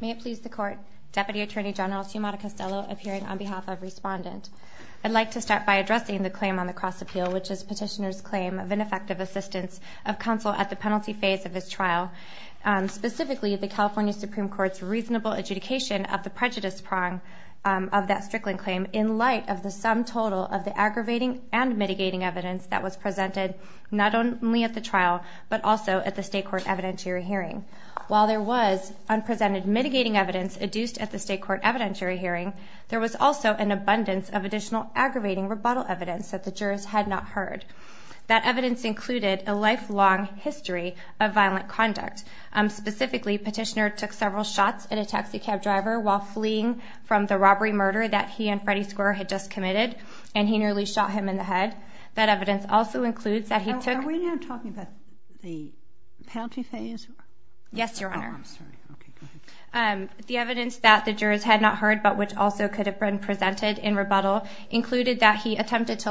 May it please the Court, Deputy Attorney General Tiamata Costello appearing on behalf of respondents. I'd like to start by addressing the claim on the cross appeal, which is petitioner's claim of ineffective assistance of counsel at the penalty phase of this trial, specifically the California Supreme Court's reasonable adjudication of the prejudice prong of that Frickland claim, in light of the sum total of the aggravating and mitigating evidence that was presented not only at the trial, but also at the state court evidentiary hearing. While there was unpresented mitigating evidence adduced at the state court evidentiary hearing, there was also an abundance of additional aggravating rebuttal evidence that the jurors had not heard. That evidence included a lifelong history of violent conduct. Specifically, petitioner took several shots at a taxi cab driver while fleeing from the robbery murder that he and Freddie Square had just committed, and he nearly shot him in the head. That evidence also includes that he took- Are we now talking about the penalty phase? Yes, Your Honor. The evidence that the jurors had not heard, but which also could have been presented in rebuttal, included that he attempted to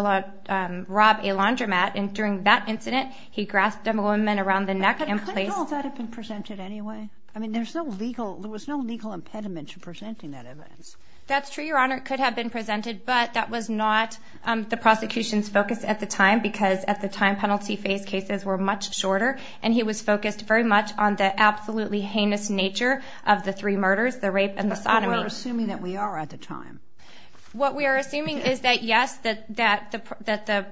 rob a laundromat, and during that incident, he grasped a woman around the neck and placed- Couldn't all that have been presented anyway? I mean, there was no legal impediment to presenting that evidence. That's true, Your Honor. It could have been presented, but that was not the prosecution's focus at the time, because at the time, penalty phase cases were much shorter, and he was focused very much on the absolutely heinous nature of the three murders, the rape and the sodomy. But we're assuming that we are at the time. What we are assuming is that, yes, that the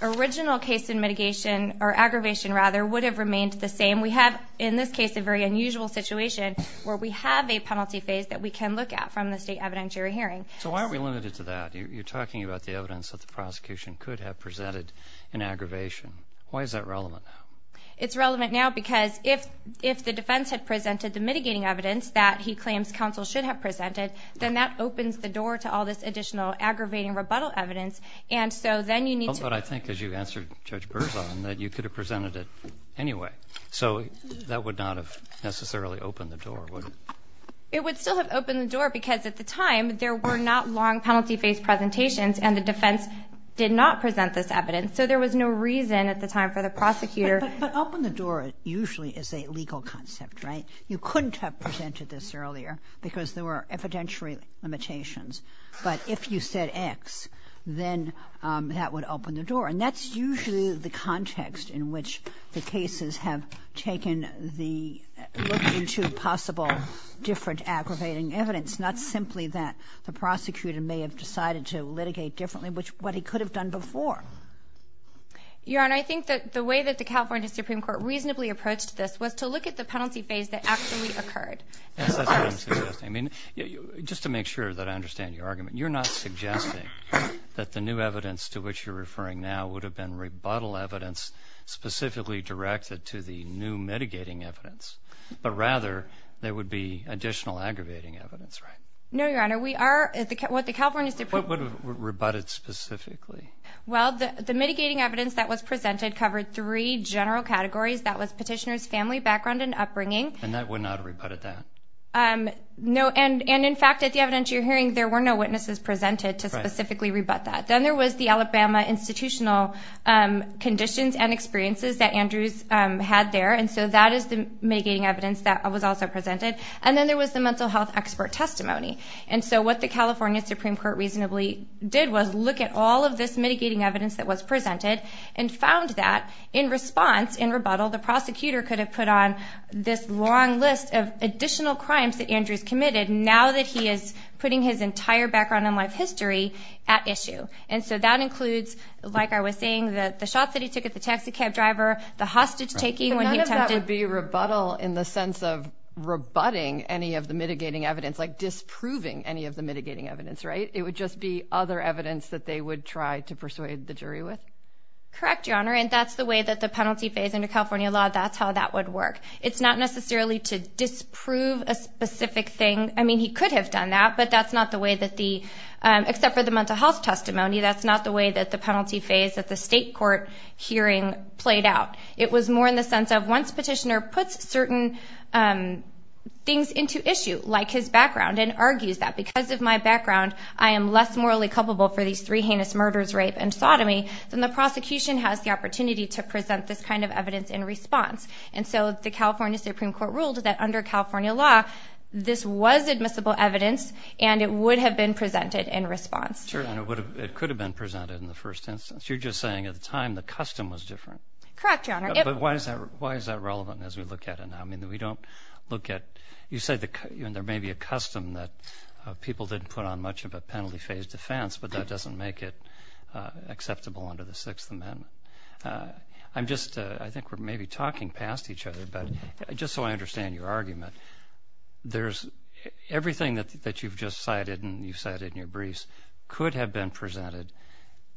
original case in mitigation, or aggravation rather, would have remained the same. And we have, in this case, a very unusual situation where we have a penalty phase that we can look at from the state evidentiary hearing. So why are we limited to that? You're talking about the evidence that the prosecution could have presented in aggravation. Why is that relevant now? It's relevant now because if the defense had presented the mitigating evidence that he claims counsel should have presented, then that opens the door to all this additional aggravating rebuttal evidence, and so then you need to- So that would not have necessarily opened the door, would it? It would still have opened the door because at the time, there were not long penalty phase presentations, and the defense did not present this evidence, so there was no reason at the time for the prosecutor- But open the door usually is a legal concept, right? You couldn't have presented this earlier because there were evidentiary limitations. But if you said X, then that would open the door. And that's usually the context in which the cases have taken the- looked into possible different aggravating evidence, not simply that the prosecutor may have decided to litigate differently, which is what he could have done before. Yeah, and I think that the way that the California Supreme Court reasonably approached this was to look at the penalty phase that actually occurred. I mean, just to make sure that I understand your argument, you're not suggesting that the new evidence to which you're referring now would have been rebuttal evidence specifically directed to the new mitigating evidence, but rather there would be additional aggravating evidence, right? No, Your Honor, we are- Who would have rebutted specifically? Well, the mitigating evidence that was presented covered three general categories. That was petitioner's family background and upbringing. And that would not have rebutted that? No, and in fact, at the evidence you're hearing, there were no witnesses presented to specifically rebut that. Then there was the Alabama institutional conditions and experiences that Andrews had there. And so that is the mitigating evidence that was also presented. And then there was the mental health expert testimony. And so what the California Supreme Court reasonably did was look at all of this mitigating evidence that was presented and found that in response, in rebuttal, the prosecutor could have put on this long list of additional crimes that Andrews committed now that he is putting his entire background and life history at issue. And so that includes, like I was saying, the shots that he took at the taxi cab driver, the hostage taking- So none of that would be rebuttal in the sense of rebutting any of the mitigating evidence, like disproving any of the mitigating evidence, right? It would just be other evidence that they would try to persuade the jury with? Correct, Your Honor, and that's the way that the penalty phase in the California law, that's how that would work. It's not necessarily to disprove a specific thing. I mean, he could have done that, but that's not the way that the- except for the mental health testimony, that's not the way that the penalty phase at the state court hearing played out. It was more in the sense of once the petitioner puts certain things into issue, like his background, and argues that because of my background, I am less morally culpable for these three heinous murders, rape and sodomy, then the prosecution has the opportunity to present this kind of evidence in response. And so the California Supreme Court ruled that under California law, this was admissible evidence, and it would have been presented in response. Sure, and it could have been presented in the first instance. You're just saying at the time the custom was different. Correct, Your Honor. But why is that relevant as we look at it now? I mean, we don't look at- you said there may be a custom that people didn't put on much of a penalty phase defense, but that doesn't make it acceptable under the Sixth Amendment. I'm just- I think we're maybe talking past each other, but just so I understand your argument, there's- everything that you've just cited and you said in your briefs could have been presented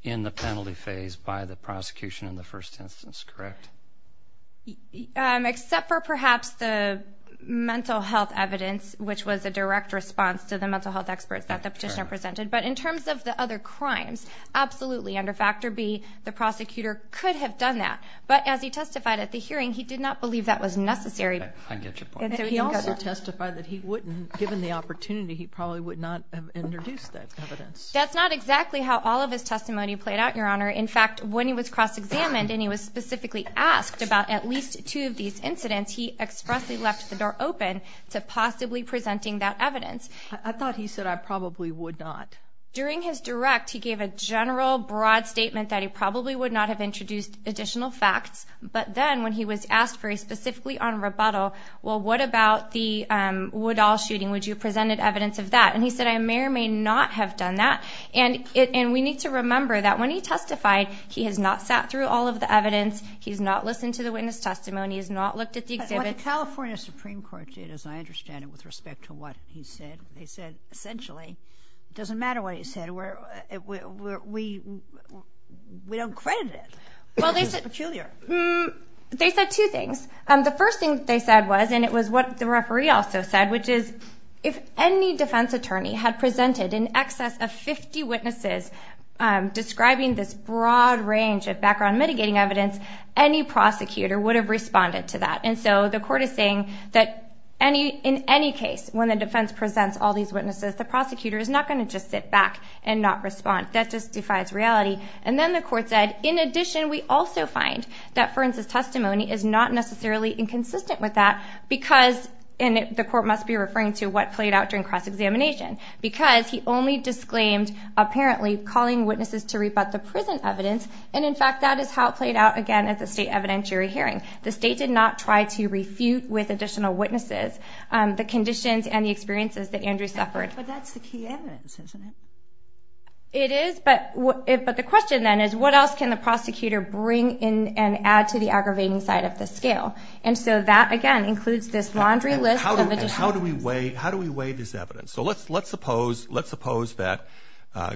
in the penalty phase by the prosecution in the first instance, correct? Except for perhaps the mental health evidence, which was a direct response to the mental health experts that the petitioner presented. But in terms of the other crimes, absolutely, under Factor B, the prosecutor could have done that. But as he testified at the hearing, he did not believe that was necessary. I get your point. He also testified that he wouldn't- given the opportunity, he probably would not have introduced that evidence. That's not exactly how all of his testimony played out, Your Honor. In fact, when he was cross-examined and he was specifically asked about at least two of these incidents, he expressly left the door open to possibly presenting that evidence. I thought he said, I probably would not. During his direct, he gave a general, broad statement that he probably would not have introduced additional facts. But then when he was asked very specifically on rebuttal, well, what about the Woodall shooting? Would you have presented evidence of that? And he said, I may or may not have done that. And we need to remember that when he testified, he has not sat through all of the evidence. He has not listened to the witness testimony. He has not looked at the exhibit. The California Supreme Court did, as I understand it, with respect to what he said. They said, essentially, it doesn't matter what he said. We don't credit it. Well, they said two things. The first thing they said was, and it was what the referee also said, which is if any defense attorney had presented in excess of 50 witnesses describing this broad range of background mitigating evidence, any prosecutor would have responded to that. And so the court is saying that in any case, when the defense presents all these witnesses, the prosecutor is not going to just sit back and not respond. That just defies reality. And then the court said, in addition, we also find that Ferns' testimony is not necessarily inconsistent with that because, and the court must be referring to what played out during cross-examination, because he only disclaimed, apparently, calling witnesses to rebut the prison evidence. And, in fact, that is how it played out, again, as a state evidentiary hearing. The state did not try to refute with additional witnesses the conditions and the experiences that Andrew suffered. But that's the key evidence, isn't it? It is. But the question, then, is what else can the prosecutor bring in and add to the aggravating side of the scale? And so that, again, includes this laundry list. How do we weigh this evidence? So let's suppose that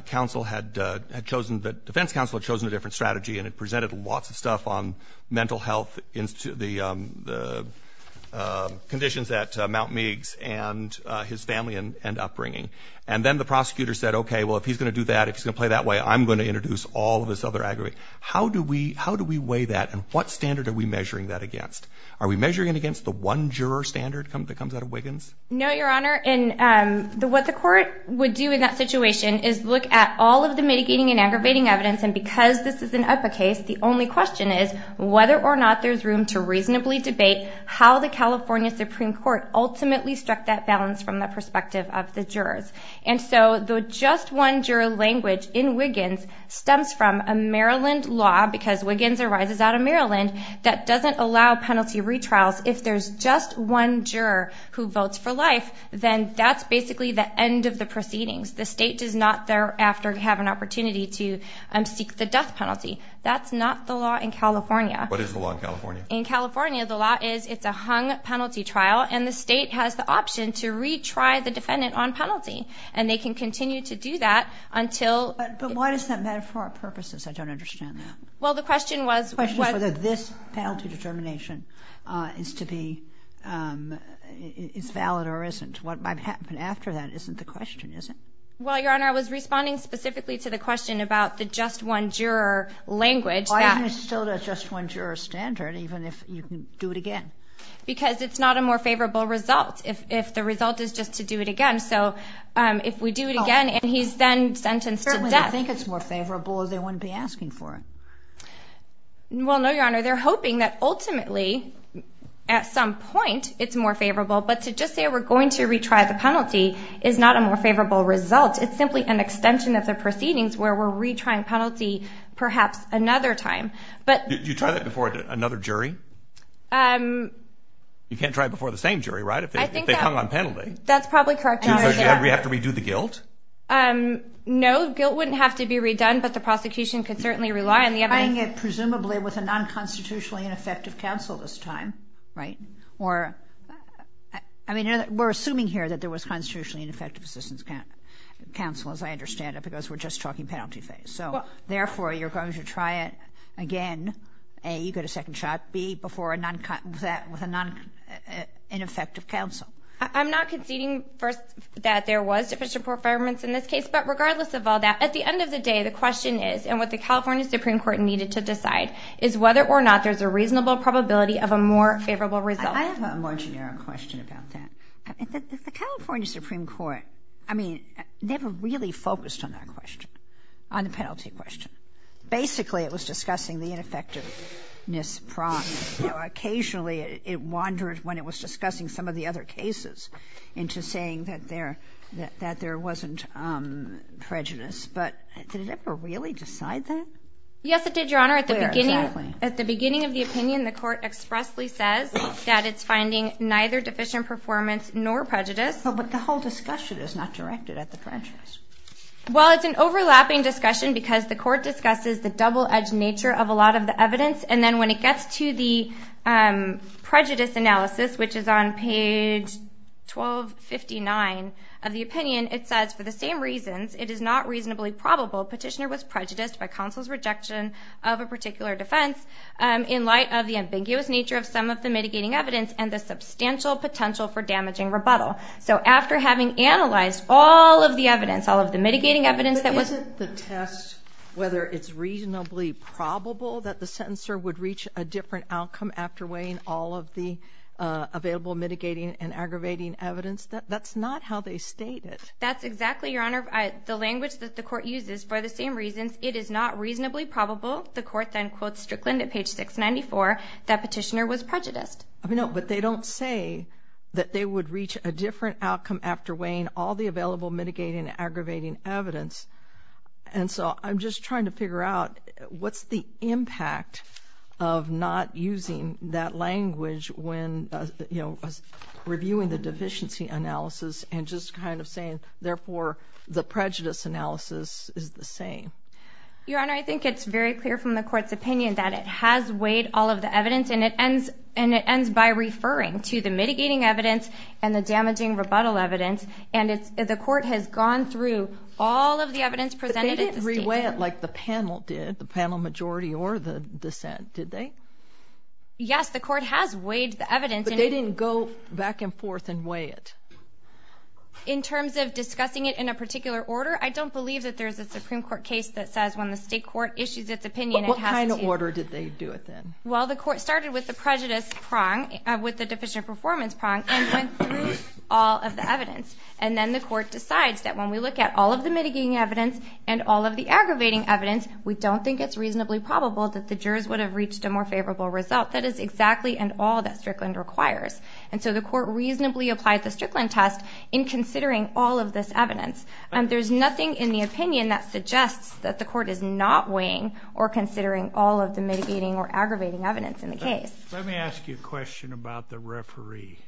counsel had chosen, that defense counsel had chosen a different strategy and had presented lots of stuff on mental health, the conditions that Mount Meigs and his family end up bringing. And then the prosecutor said, okay, well, if he's going to do that, if he's going to play that way, I'm going to introduce all of this other aggravating. How do we weigh that, and what standard are we measuring that against? Are we measuring it against the one-juror standard that comes out of Wiggins? No, Your Honor. And what the court would do in that situation is look at all of the mitigating and aggravating evidence, and because this is an epic case, the only question is whether or not there's room to reasonably debate how the California Supreme Court ultimately struck that balance from the perspective of the jurors. And so the just one-juror language in Wiggins stems from a Maryland law, because Wiggins arises out of Maryland, that doesn't allow penalty retrials. If there's just one juror who votes for life, then that's basically the end of the proceedings. The state does not thereafter have an opportunity to seek the death penalty. That's not the law in California. What is the law in California? In California, the law is it's a hung penalty trial, and the state has the option to retry the defendant on penalty. And they can continue to do that until... But why does that matter for our purposes? I don't understand that. Well, the question was... The question is whether this penalty determination is to be valid or isn't. What might happen after that isn't the question, is it? Well, Your Honor, I was responding specifically to the question about the just one-juror language. Why is it still the just one-juror standard, even if you can do it again? Because it's not a more favorable result if the result is just to do it again. So if we do it again and he's then sentenced for death... Do they think it's more favorable or they wouldn't be asking for it? Well, no, Your Honor. They're hoping that ultimately, at some point, it's more favorable. But to just say we're going to retry the penalty is not a more favorable result. It's simply an extension of the proceedings where we're retrying penalty perhaps another time. Do you try that before another jury? You can't try it before the same jury, right, if they hung on penalty? That's probably correct, Your Honor. Do you have to redo the guilt? No. Guilt wouldn't have to be redone, but the prosecution could certainly rely on the evidence. We're doing it presumably with a non-constitutionally ineffective counsel this time. Right. Or, I mean, we're assuming here that there was constitutionally ineffective assistance counsel, as I understand it, because we're just talking penalty phase. So, therefore, you're going to try it again, A, you get a second shot, B, with a non-ineffective counsel. I'm not conceding that there was sufficient performance in this case, but regardless of all that, at the end of the day, the question is, and what the California Supreme Court needed to decide, is whether or not there's a reasonable probability of a more favorable result. I have a more generic question about that. The California Supreme Court, I mean, never really focused on that question, on the penalty question. Basically, it was discussing the ineffectiveness prong. Occasionally, it wandered, when it was discussing some of the other cases, into saying that there wasn't prejudice. But did it ever really decide that? Yes, it did, Your Honor. At the beginning of the opinion, the court expressly said that it's finding neither deficient performance nor prejudice. But the whole discussion is not directed at the prejudice. Well, it's an overlapping discussion because the court discusses the double-edged nature of a lot of the evidence, and then when it gets to the prejudice analysis, which is on page 1259 of the opinion, it says, for the same reasons, it is not reasonably probable Petitioner was prejudiced by counsel's rejection of a particular defense, in light of the ambiguous nature of some of the mitigating evidence and the substantial potential for damaging rebuttal. So after having analyzed all of the evidence, all of the mitigating evidence that was- Whether it's reasonably probable that the sentencer would reach a different outcome after weighing all of the available mitigating and aggravating evidence, that's not how they state it. That's exactly, Your Honor, the language that the court uses. For the same reasons, it is not reasonably probable, the court then quotes Strickland at page 694, that Petitioner was prejudiced. No, but they don't say that they would reach a different outcome after weighing all the available mitigating and aggravating evidence. And so I'm just trying to figure out what's the impact of not using that language when, you know, reviewing the deficiency analysis and just kind of saying, therefore, the prejudice analysis is the same. Your Honor, I think it's very clear from the court's opinion that it has weighed all of the evidence, and it ends by referring to the mitigating evidence and the damaging rebuttal evidence. And the court has gone through all of the evidence presented- But they didn't re-weigh it like the panel did, the panel majority or the dissent, did they? Yes, the court has weighed the evidence. But they didn't go back and forth and weigh it. In terms of discussing it in a particular order, I don't believe that there's a Supreme Court case that says, when the state court issues its opinion- What kind of order did they do it in? Well, the court started with the prejudice prong, with the deficient performance prong, and then weighed all of the evidence. And then the court decides that when we look at all of the mitigating evidence and all of the aggravating evidence, we don't think it's reasonably probable that the jurors would have reached a more favorable result. That is exactly and all that Strickland requires. And so the court reasonably applies the Strickland test in considering all of this evidence. There's nothing in the opinion that suggests that the court is not weighing or considering all of the mitigating or aggravating evidence in the case. Let me ask you a question about the referee.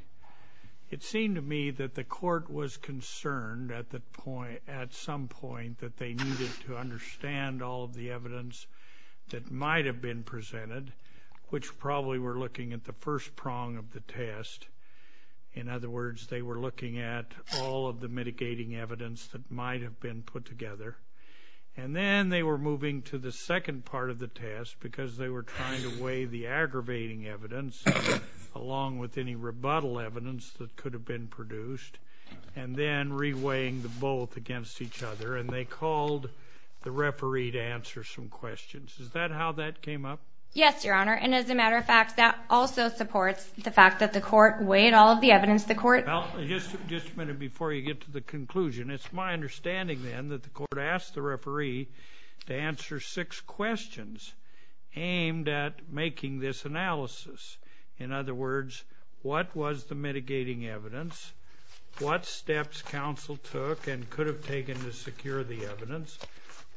It seemed to me that the court was concerned at some point that they needed to understand all of the evidence that might have been presented, which probably were looking at the first prong of the test. In other words, they were looking at all of the mitigating evidence that might have been put together. And then they were moving to the second part of the test because they were trying to weigh the aggravating evidence, along with any rebuttal evidence that could have been produced, and then re-weighing the both against each other. And they called the referee to answer some questions. Is that how that came up? Yes, Your Honor. And as a matter of fact, that also supports the fact that the court weighed all of the evidence. Just a minute before you get to the conclusion. It's my understanding then that the court asked the referee to answer six questions aimed at making this analysis. In other words, what was the mitigating evidence? What steps counsel took and could have taken to secure the evidence?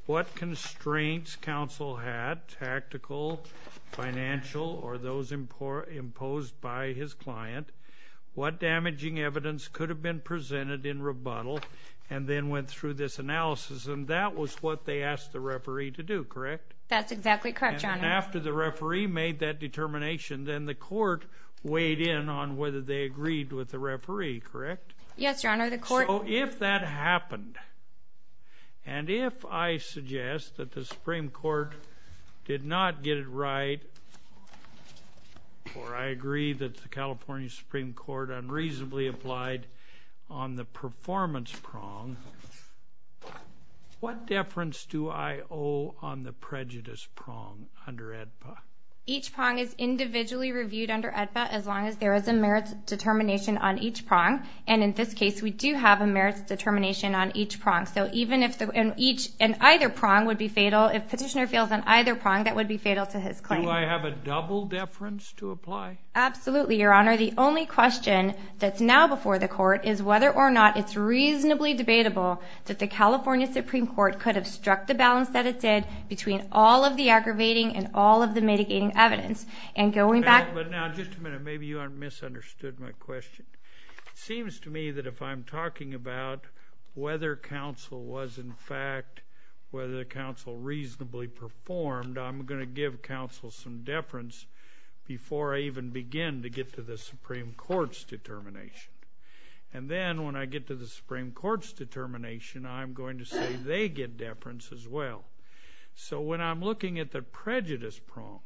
What constraints counsel had, tactical, financial, or those imposed by his client? What damaging evidence could have been presented in rebuttal? And then went through this analysis. And that was what they asked the referee to do, correct? That's exactly correct, Your Honor. And after the referee made that determination, then the court weighed in on whether they agreed with the referee, correct? Yes, Your Honor. So if that happened and if I suggest that the Supreme Court did not get it right or I agree that the California Supreme Court unreasonably applied on the performance prong, what deference do I owe on the prejudice prong under AEDPA? Each prong is individually reviewed under AEDPA as long as there is a merits determination on each prong. And in this case, we do have a merits determination on each prong. So even if an either prong would be fatal, if Petitioner fails on either prong, that would be fatal to his claim. Do I have a double deference to apply? Absolutely, Your Honor. The only question that's now before the court is whether or not it's reasonably debatable that the California Supreme Court could have struck the balance that it did between all of the aggravating and all of the mitigating evidence. And going back— But now, just a minute, maybe you misunderstood my question. It seems to me that if I'm talking about whether counsel was in fact— whether the counsel reasonably performed, I'm going to give counsel some deference before I even begin to get to the Supreme Court's determination. And then when I get to the Supreme Court's determination, I'm going to say they get deference as well. So when I'm looking at the prejudice prong,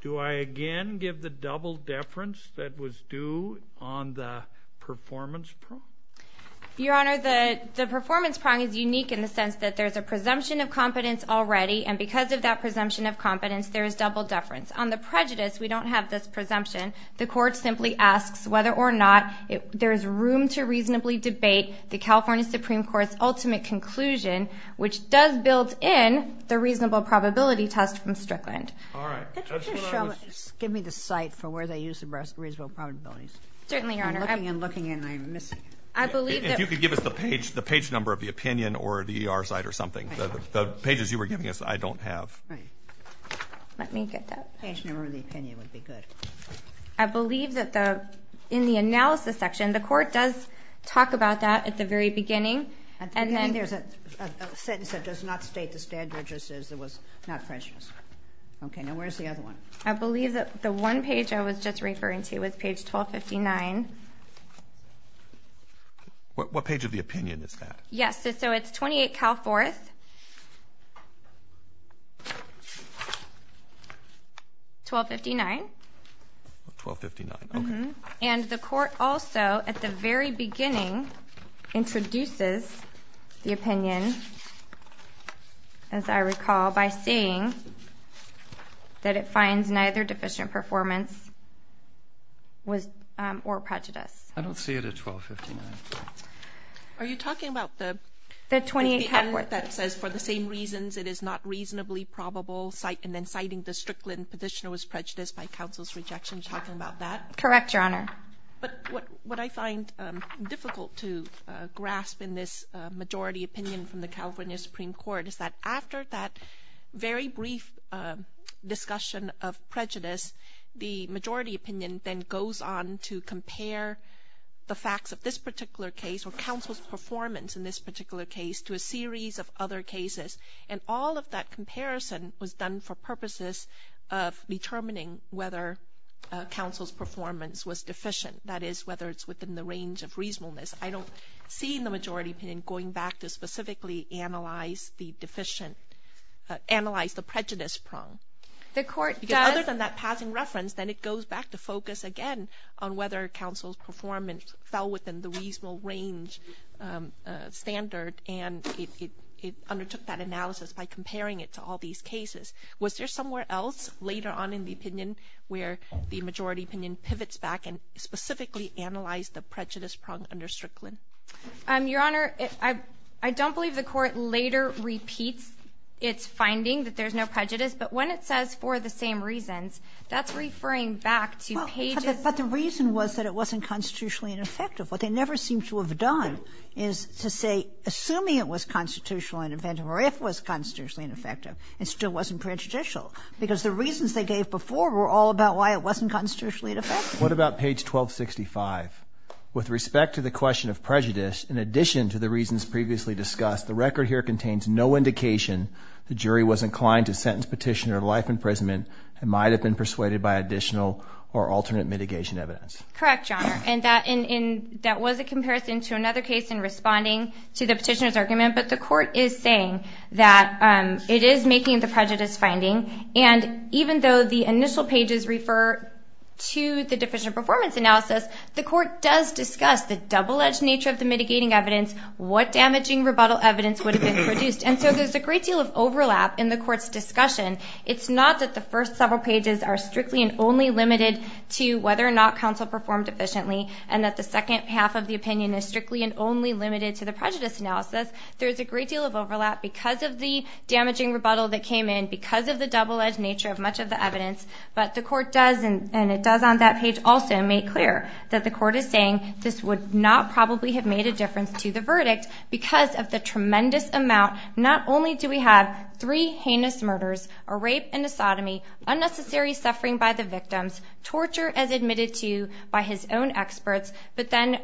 do I again give the double deference that was due on the performance prong? Your Honor, the performance prong is unique in the sense that there's a presumption of competence already, and because of that presumption of competence, there is double deference. On the prejudice, we don't have this presumption. The court simply asks whether or not there's room to reasonably debate the California Supreme Court's ultimate conclusion, which does build in the reasonable probability test from Strickland. All right. Just give me the site for where they use the reasonable probability. Certainly, Your Honor. I'm looking and looking and I'm missing it. If you could give us the page number of the opinion or the ER site or something. The pages you were giving us, I don't have. Let me get that page number of the opinion would be good. I believe that in the analysis section, the court does talk about that at the very beginning. I believe there's a sentence that does not state the standard just as it was not precious. Okay. Now, where's the other one? I believe that the one page I was just referring to was page 1259. What page of the opinion is that? Yes. So it's 28 Cal Forest, 1259. 1259. And the court also, at the very beginning, introduces the opinion, as I recall, by saying that it finds neither deficient performance or prejudice. I don't see it at 1259. Are you talking about the opinion that says for the same reasons it is not reasonably probable and then citing the Strickland petitioner was prejudiced by counsel's rejection, talking about that? Correct, Your Honor. But what I find difficult to grasp in this majority opinion from the California Supreme Court is that after that very brief discussion of prejudice, the majority opinion then goes on to compare the facts of this particular case or counsel's performance in this particular case to a series of other cases. And all of that comparison was done for purposes of determining whether counsel's performance was deficient, that is, whether it's within the range of reasonableness. I don't see in the majority opinion going back to specifically analyze the prejudice prong. Other than that passing reference, then it goes back to focus again on whether counsel's performance fell within the reasonable range standard, and it undertook that analysis by comparing it to all these cases. Was there somewhere else later on in the opinion where the majority opinion pivots back and specifically analyzed the prejudice prong under Strickland? Your Honor, I don't believe the Court later repeats its finding that there's no prejudice, but when it says for the same reasons, that's referring back to cases. But the reason was that it wasn't constitutionally ineffective. What they never seem to have done is to say, assuming it was constitutionally ineffective or if it was constitutionally ineffective, it still wasn't prejudicial, because the reasons they gave before were all about why it wasn't constitutionally ineffective. What about page 1265? With respect to the question of prejudice, in addition to the reasons previously discussed, the record here contains no indication the jury was inclined to sentence Petitioner to life imprisonment and might have been persuaded by additional or alternate mitigation evidence. Correct, Your Honor. And that was a comparison to another case in responding to the Petitioner's argument, but the Court is saying that it is making the prejudice finding, and even though the initial pages refer to the deficient performance analysis, the Court does discuss the double-edged nature of the mitigating evidence, what damaging rebuttal evidence would have been produced. And so there's a great deal of overlap in the Court's discussion. It's not that the first several pages are strictly and only limited to whether or not counsel performed efficiently and that the second half of the opinion is strictly and only limited to the prejudice analysis. There's a great deal of overlap because of the damaging rebuttal that came in, because of the double-edged nature of much of the evidence, but the Court does, and it does on that page also make clear that the Court is saying this would not probably have made a difference to the verdict because of the tremendous amount, not only do we have three heinous murders, a rape and a sodomy, unnecessary suffering by the victims, torture as admitted to by his own experts, but then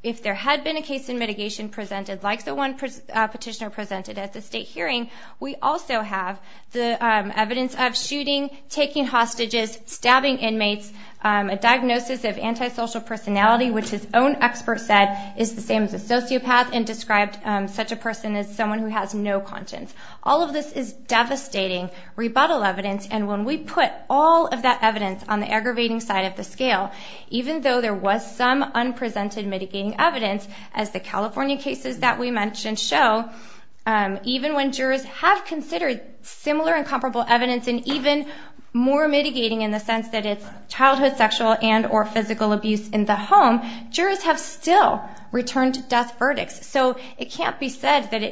if there had been a case in mitigation presented like the one Petitioner presented at the state hearing, we also have the evidence of shooting, taking hostages, stabbing inmates, a diagnosis of antisocial personality, which his own expert said is the same as a sociopath and described such a person as someone who has no conscience. All of this is devastating rebuttal evidence, and when we put all of that evidence on the aggravating side of the scale, even though there was some unprecedented mitigating evidence, as the California cases that we mentioned show, even when jurors have considered similar and comparable evidence and even more mitigating in the sense that it's So it can't be said that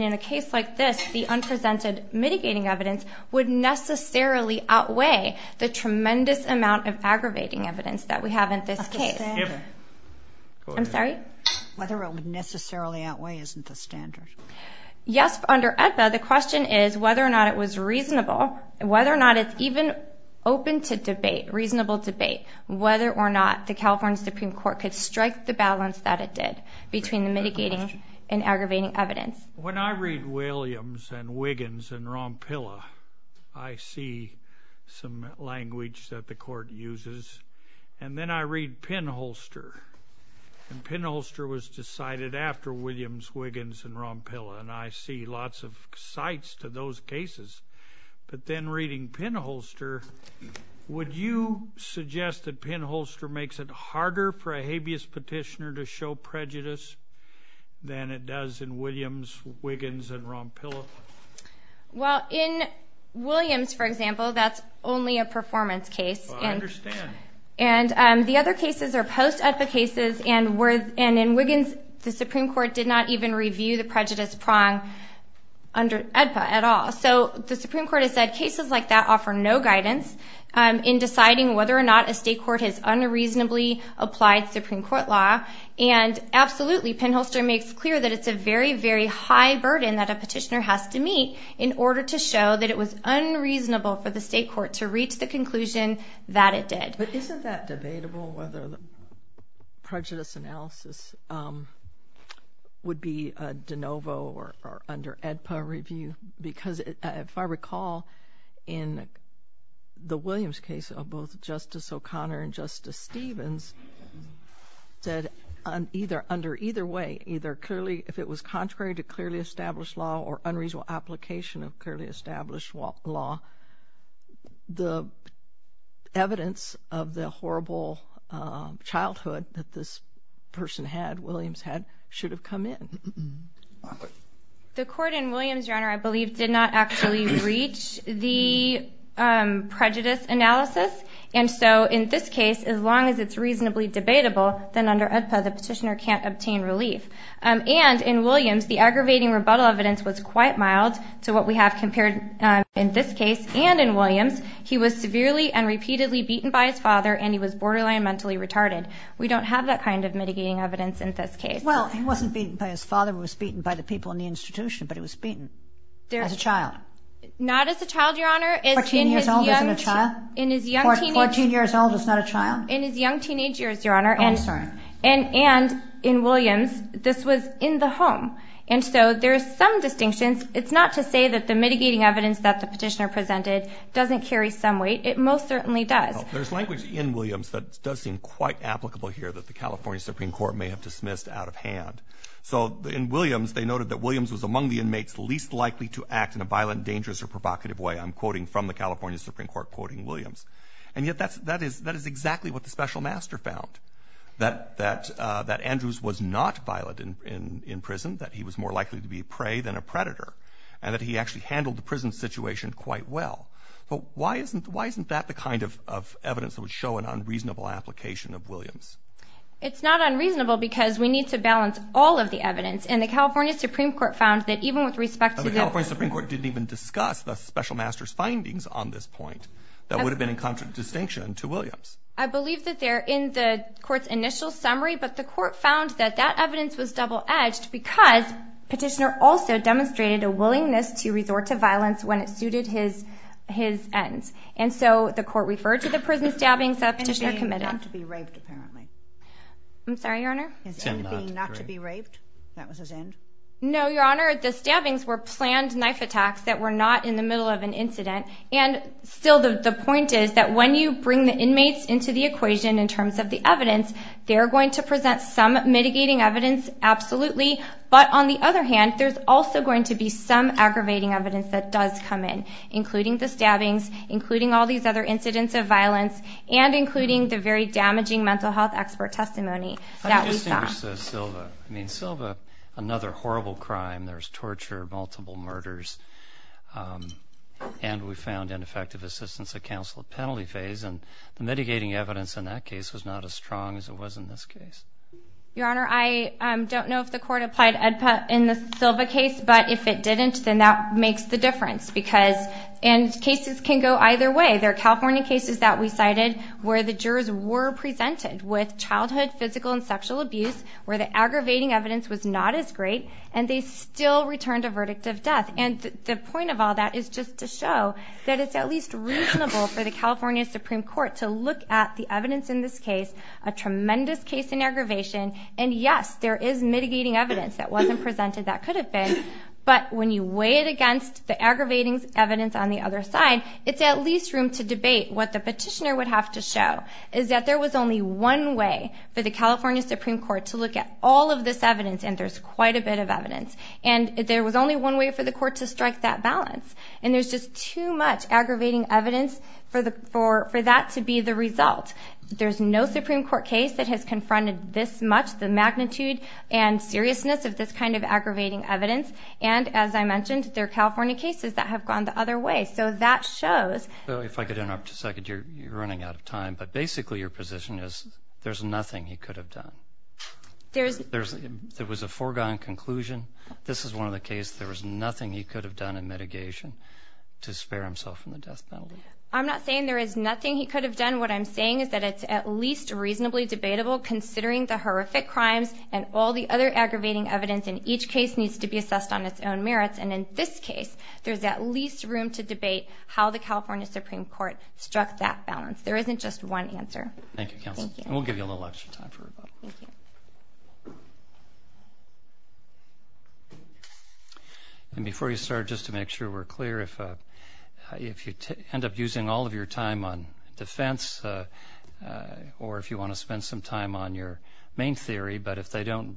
in a case like this, the unprecedented mitigating evidence would necessarily outweigh the tremendous amount of aggravating evidence that we have in this case. I'm sorry? Whether it would necessarily outweigh isn't a standard. Yes, under ESSA, the question is whether or not it was reasonable, whether or not it's even open to debate, reasonable debate, whether or not the California Supreme Court could strike the balance that it did between the mitigating and aggravating evidence. When I read Williams and Wiggins and Rompilla, I see some language that the court uses, and then I read Penholster, and Penholster was decided after Williams, Wiggins, and Rompilla, and I see lots of sites to those cases, but then reading Penholster, would you suggest that Penholster makes it harder for a habeas petitioner to show prejudice than it does in Williams, Wiggins, and Rompilla? Well, in Williams, for example, that's only a performance case. I understand. And the other cases are post-ESSA cases, and in Wiggins, the Supreme Court did not even review the prejudice prong under ESSA at all. So the Supreme Court has said cases like that offer no guidance in deciding whether or not a state court has unreasonably applied Supreme Court law, and absolutely Penholster makes clear that it's a very, very high burden that a petitioner has to meet in order to show that it was unreasonable for the state court to reach the conclusion that it did. But isn't that debatable whether prejudice analysis would be de novo or under ADPA review? Because if I recall, in the Williams case of both Justice O'Connor and Justice Stevens, that under either way, either clearly if it was contrary to clearly established law or unreasonable application of clearly established law, the evidence of the horrible childhood that this person had, Williams had, should have come in. The court in Williams, I believe, did not actually reach the prejudice analysis, and so in this case, as long as it's reasonably debatable, then under ESSA the petitioner can't obtain relief. And in Williams, the aggravating rebuttal evidence was quite mild to what we have compared in this case and in Williams. He was severely and repeatedly beaten by his father, and he was borderline mentally retarded. We don't have that kind of mitigating evidence in this case. Well, he wasn't beaten by his father. He was beaten by the people in the institution, but he was beaten as a child. Not as a child, Your Honor. Fourteen years old as a child? Fourteen years old as not a child? In his young teenage years, Your Honor. Oh, I'm sorry. And in Williams, this was in the home. And so there are some distinctions. It's not to say that the mitigating evidence that the petitioner presented doesn't carry some weight. It most certainly does. There's language in Williams that does seem quite applicable here that the California Supreme Court may have dismissed out of hand. So in Williams, they noted that Williams was among the inmates least likely to act in a violent, dangerous, or provocative way. I'm quoting from the California Supreme Court, quoting Williams. And yet that is exactly what the special master found, that Andrews was not violent in prison, that he was more likely to be a prey than a predator, and that he actually handled the prison situation quite well. But why isn't that the kind of evidence that would show an unreasonable application of Williams? It's not unreasonable because we need to balance all of the evidence. And the California Supreme Court found that even with respect to Williams. The California Supreme Court didn't even discuss the special master's findings on this point. That would have been in contradiction to Williams. I believe that they're in the court's initial summary. But the court found that that evidence was double-edged because Petitioner also demonstrated a willingness to resort to violence when it suited his ends. And so the court referred to the prison stabbings that Petitioner committed. No, Your Honor, the stabbings were planned knife attacks that were not in the middle of an incident. And still the point is that when you bring the inmates into the equation in terms of the evidence, they're going to present some mitigating evidence, absolutely. But on the other hand, there's also going to be some aggravating evidence that does come in, including the stabbings, including all these other incidents of violence, and including the very damaging mental health expert testimony that we saw. I'm going to switch to Silva. I mean, Silva, another horrible crime. There's torture, multiple murders. And we found ineffective assistance at counsel at penalty phase. And the mitigating evidence in that case was not as strong as it was in this case. Your Honor, I don't know if the court applied EDPA in the Silva case. But if it didn't, then that makes the difference. And cases can go either way. There are California cases that we cited where the jurors were presented with childhood, physical, and sexual abuse, where the aggravating evidence was not as great, and they still returned a verdict of death. And the point of all that is just to show that it's at least reasonable for the California Supreme Court to look at the evidence in this case, a tremendous case in aggravation. And, yes, there is mitigating evidence that wasn't presented that could have been. But when you weigh it against the aggravating evidence on the other side, it's at least room to debate what the petitioner would have to show, is that there was only one way for the California Supreme Court to look at all of this evidence, and there's quite a bit of evidence. And there was only one way for the court to strike that balance. And there's just too much aggravating evidence for that to be the result. There's no Supreme Court case that has confronted this much the magnitude and seriousness of this kind of aggravating evidence. And, as I mentioned, there are California cases that have gone the other way. So that shows. So if I could interrupt just a second. You're running out of time. But basically your position is there's nothing he could have done. There was a foregone conclusion. This is one of the cases. There was nothing he could have done in mitigation to spare himself from the death penalty. I'm not saying there is nothing he could have done. What I'm saying is that it's at least reasonably debatable, considering the horrific crimes and all the other aggravating evidence in each case needs to be assessed on its own merits. And in this case, there's at least room to debate how the California Supreme Court struck that balance. There isn't just one answer. Thank you. We'll give you a little extra time for rebuttal. And before you start, just to make sure we're clear, if you end up using all of your time on defense or if you want to spend some time on your main theory, but if they don't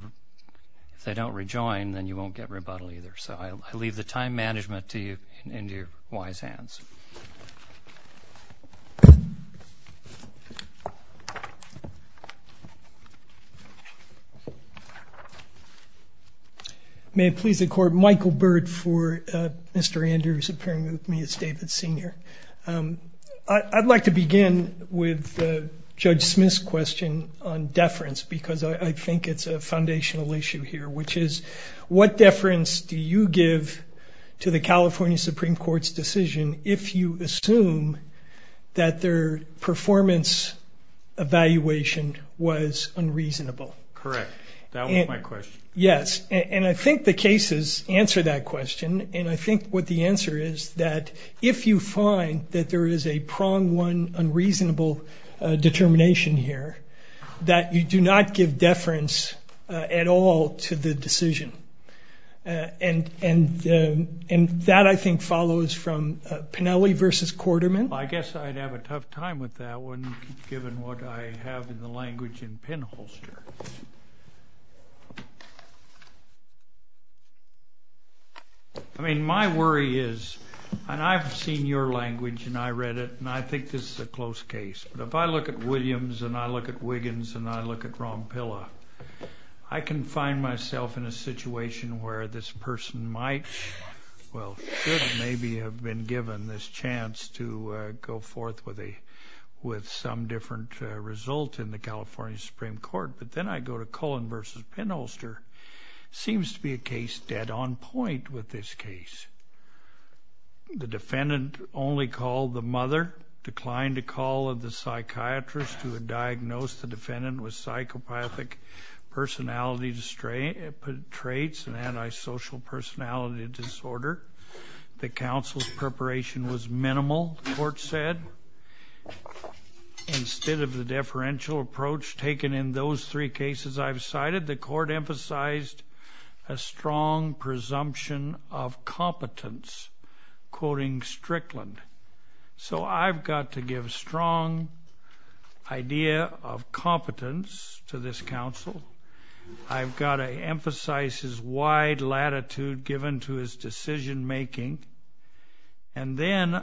rejoin, then you won't get rebuttal either. So I'll leave the time management to you in your wise hands. May it please the Court, Michael Burt for Mr. Andrews appearing with me as statement senior. I'd like to begin with Judge Smith's question on deference because I think it's a foundational issue here, which is what deference do you give to the California Supreme Court's decision if you assume that their performance evaluation was unreasonable? Correct. That was my question. Yes. And I think the cases answer that question. And I think what the answer is that if you find that there is a prong one unreasonable determination here, that you do not give deference at all to the decision. And that, I think, follows from Pennelly versus Quarterman. I guess I'd have a tough time with that one, given what I have in the language in Penholster. I mean, my worry is and I've seen your language and I read it and I think this is a close case. But if I look at Williams and I look at Wiggins and I look at Ronpilla, I can find myself in a situation where this person might, well, should maybe have been given this chance to go forth with some different result in the California Supreme Court. But then I go to Cullen versus Penholster. It seems to be a case dead on point with this case. The defendant only called the mother, declined the call of the psychiatrist who had diagnosed the defendant with psychopathic personality traits and antisocial personality disorder. The counsel's preparation was minimal, the court said. Instead of the deferential approach taken in those three cases I've cited, the court emphasized a strong presumption of competence, quoting Strickland. So I've got to give strong idea of competence to this counsel. I've got to emphasize his wide latitude given to his decision making. And then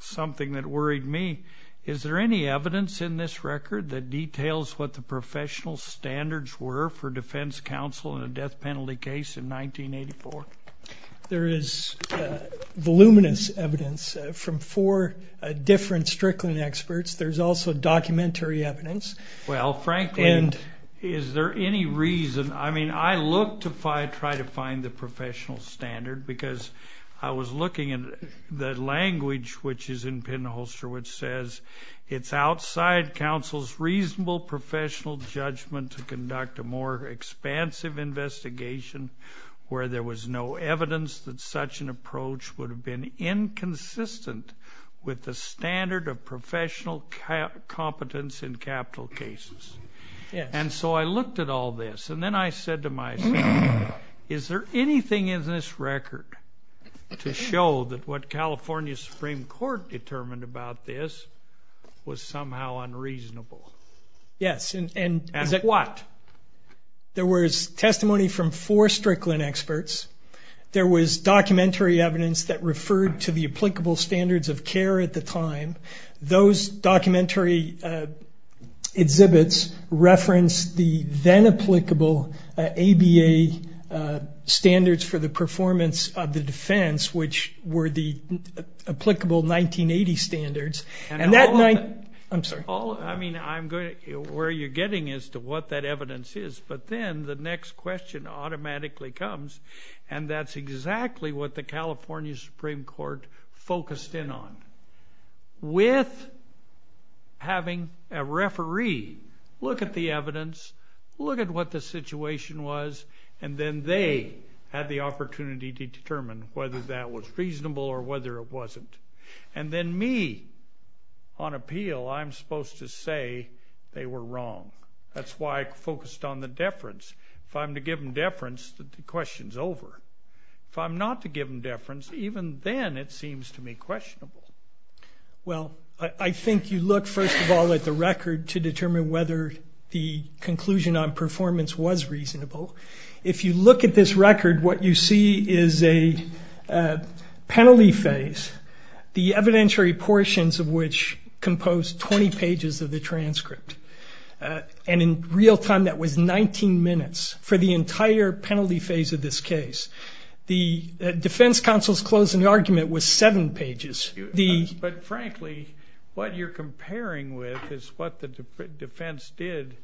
something that worried me, is there any evidence in this record that details what the professional standards were for defense counsel in a death penalty case in 1984? There is voluminous evidence from four different Strickland experts. There's also documentary evidence. Well, frankly, is there any reason? I mean, I look to try to find the professional standard because I was looking at the language which is in Penholster which says, it's outside counsel's reasonable professional judgment to conduct a more expansive investigation where there was no evidence that such an approach would have been inconsistent with the standard of professional competence in capital cases. And so I looked at all this and then I said to myself, is there anything in this record to show that what California Supreme Court determined about this was somehow unreasonable? Yes. What? There was testimony from four Strickland experts. There was documentary evidence that referred to the applicable standards of care at the time. Those documentary exhibits referenced the then-applicable ABA standards for the performance of the defense, which were the applicable 1980 standards. And that might... I'm sorry. I mean, where you're getting is to what that evidence is. But then the next question automatically comes, and that's exactly what the California Supreme Court focused in on. With having a referee look at the evidence, look at what the situation was, and then they had the opportunity to determine whether that was reasonable or whether it wasn't. And then me, on appeal, I'm supposed to say they were wrong. That's why I focused on the deference. If I'm to give them deference, the question's over. If I'm not to give them deference, even then it seems to me questionable. Well, I think you look, first of all, at the record to determine whether the conclusion on performance was reasonable. If you look at this record, what you see is a penalty phase, the evidentiary portions of which compose 20 pages of the transcript. And in real time, that was 19 minutes for the entire penalty phase of this case. The defense counsel's closing argument was seven pages. But frankly, what you're comparing with is what the defense did.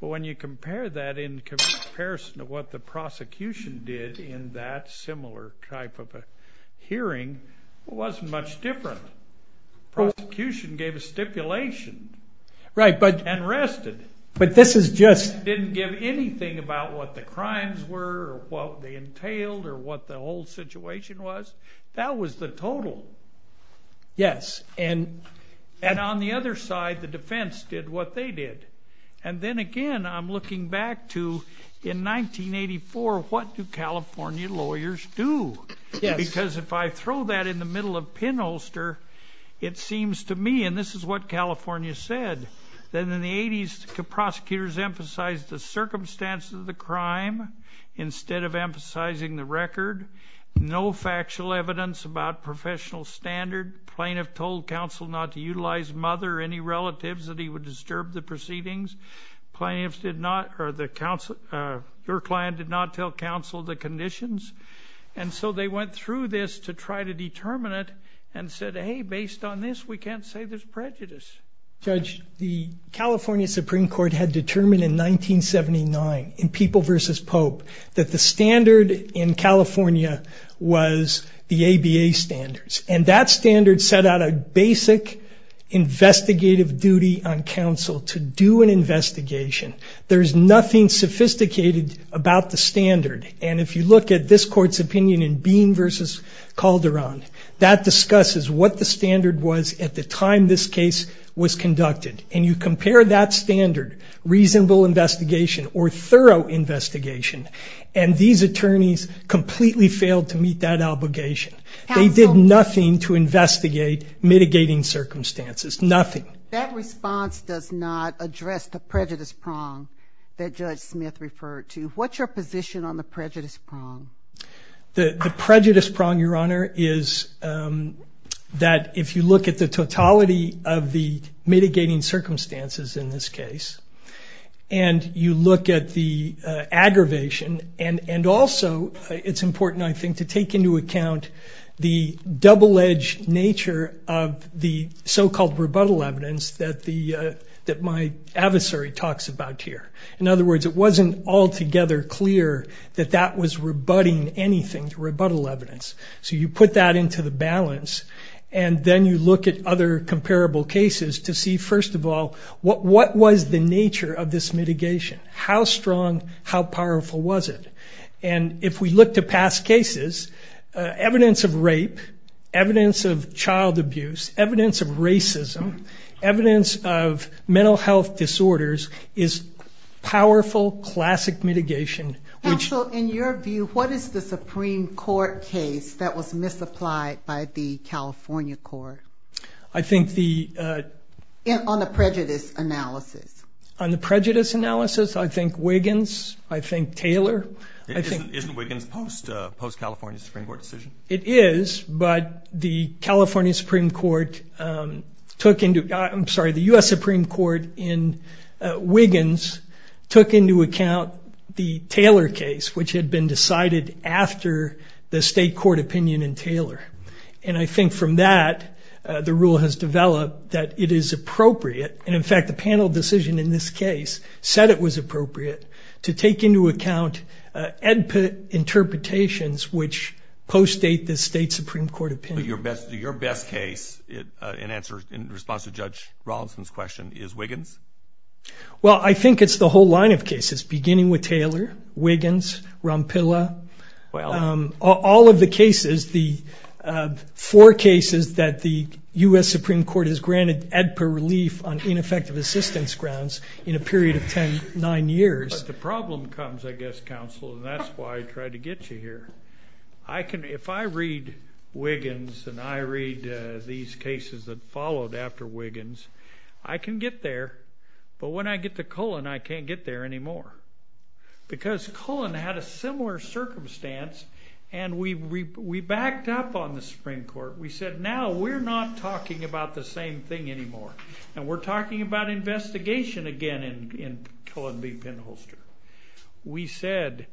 But when you compare that in comparison to what the prosecution did in that similar type of a hearing, it wasn't much different. The prosecution gave a stipulation. Right. And rested. But this just didn't give anything about what the crimes were or what they entailed or what the whole situation was. That was the total. Yes. And on the other side, the defense did what they did. And then again, I'm looking back to, in 1984, what do California lawyers do? Because if I throw that in the middle of pinholster, it seems to me, and this is what California said, that in the 80s, prosecutors emphasized the circumstances of the crime instead of emphasizing the record. No factual evidence about professional standard. Plaintiff told counsel not to utilize mother or any relatives that he would disturb the proceedings. Plaintiff did not, or the counsel, your client did not tell counsel the conditions. And so they went through this to try to determine it and said, hey, based on this, we can't say there's prejudice. Judge, the California Supreme Court had determined in 1979, in People v. Pope, that the standard in California was the ABA standards. And that standard set out a basic investigative duty on counsel to do an investigation. There's nothing sophisticated about the standard. And if you look at this court's opinion in Bean v. Calderon, that discusses what the standard was at the time this case was conducted. And you compare that standard, reasonable investigation or thorough investigation, and these attorneys completely failed to meet that obligation. They did nothing to investigate mitigating circumstances. Nothing. That response does not address the prejudice prong that Judge Smith referred to. What's your position on the prejudice prong? The prejudice prong, Your Honor, is that if you look at the totality of the mitigating circumstances in this case, and you look at the aggravation, and also it's important, I think, to take into account the double-edged nature of the so-called rebuttal evidence that my adversary talks about here. In other words, it wasn't altogether clear that that was rebutting anything, rebuttal evidence. So you put that into the balance, and then you look at other comparable cases to see, first of all, what was the nature of this mitigation? How strong, how powerful was it? And if we look to past cases, evidence of rape, evidence of child abuse, evidence of racism, evidence of mental health disorders is powerful, classic mitigation. Well, so in your view, what is the Supreme Court case that was misapplied by the California court? I think the... On the prejudice analysis. On the prejudice analysis, I think Wiggins, I think Taylor. Isn't Wiggins post-California Supreme Court decision? It is, but the California Supreme Court took into... I'm sorry, the U.S. Supreme Court in Wiggins took into account the Taylor case, which had been decided after the state court opinion in Taylor. And I think from that, the rule has developed that it is appropriate. And in fact, the panel decision in this case said it was appropriate to take into account interpretations which post-state the state Supreme Court opinion. Your best case in response to Judge Rawlinson's question is Wiggins? Well, I think it's the whole line of cases, beginning with Taylor, Wiggins, Rompilla. All of the cases, the four cases that the U.S. Supreme Court has granted Edper relief on ineffective assistance grounds in a period of ten, nine years. The problem comes, I guess, counsel, and that's why I tried to get you here. If I read Wiggins and I read these cases that followed after Wiggins, I can get there. But when I get to Cullen, I can't get there anymore. Because Cullen had a similar circumstance, and we backed up on the Supreme Court. We said, now we're not talking about the same thing anymore, and we're talking about investigation again in Cullen v. Penholster. We said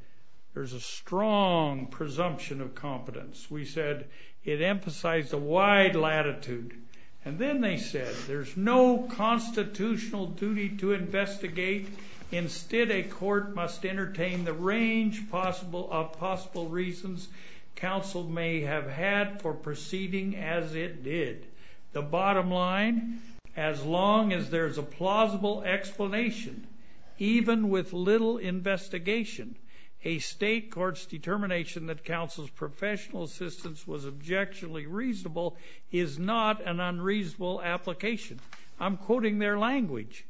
there's a strong presumption of competence. We said it emphasized a wide latitude. And then they said there's no constitutional duty to investigate. Instead, a court must entertain the range of possible reasons counsel may have had for proceeding as it did. The bottom line, as long as there's a plausible explanation, even with little investigation, a state court's determination that counsel's professional assistance was objectively reasonable is not an unreasonable application. I'm quoting their language.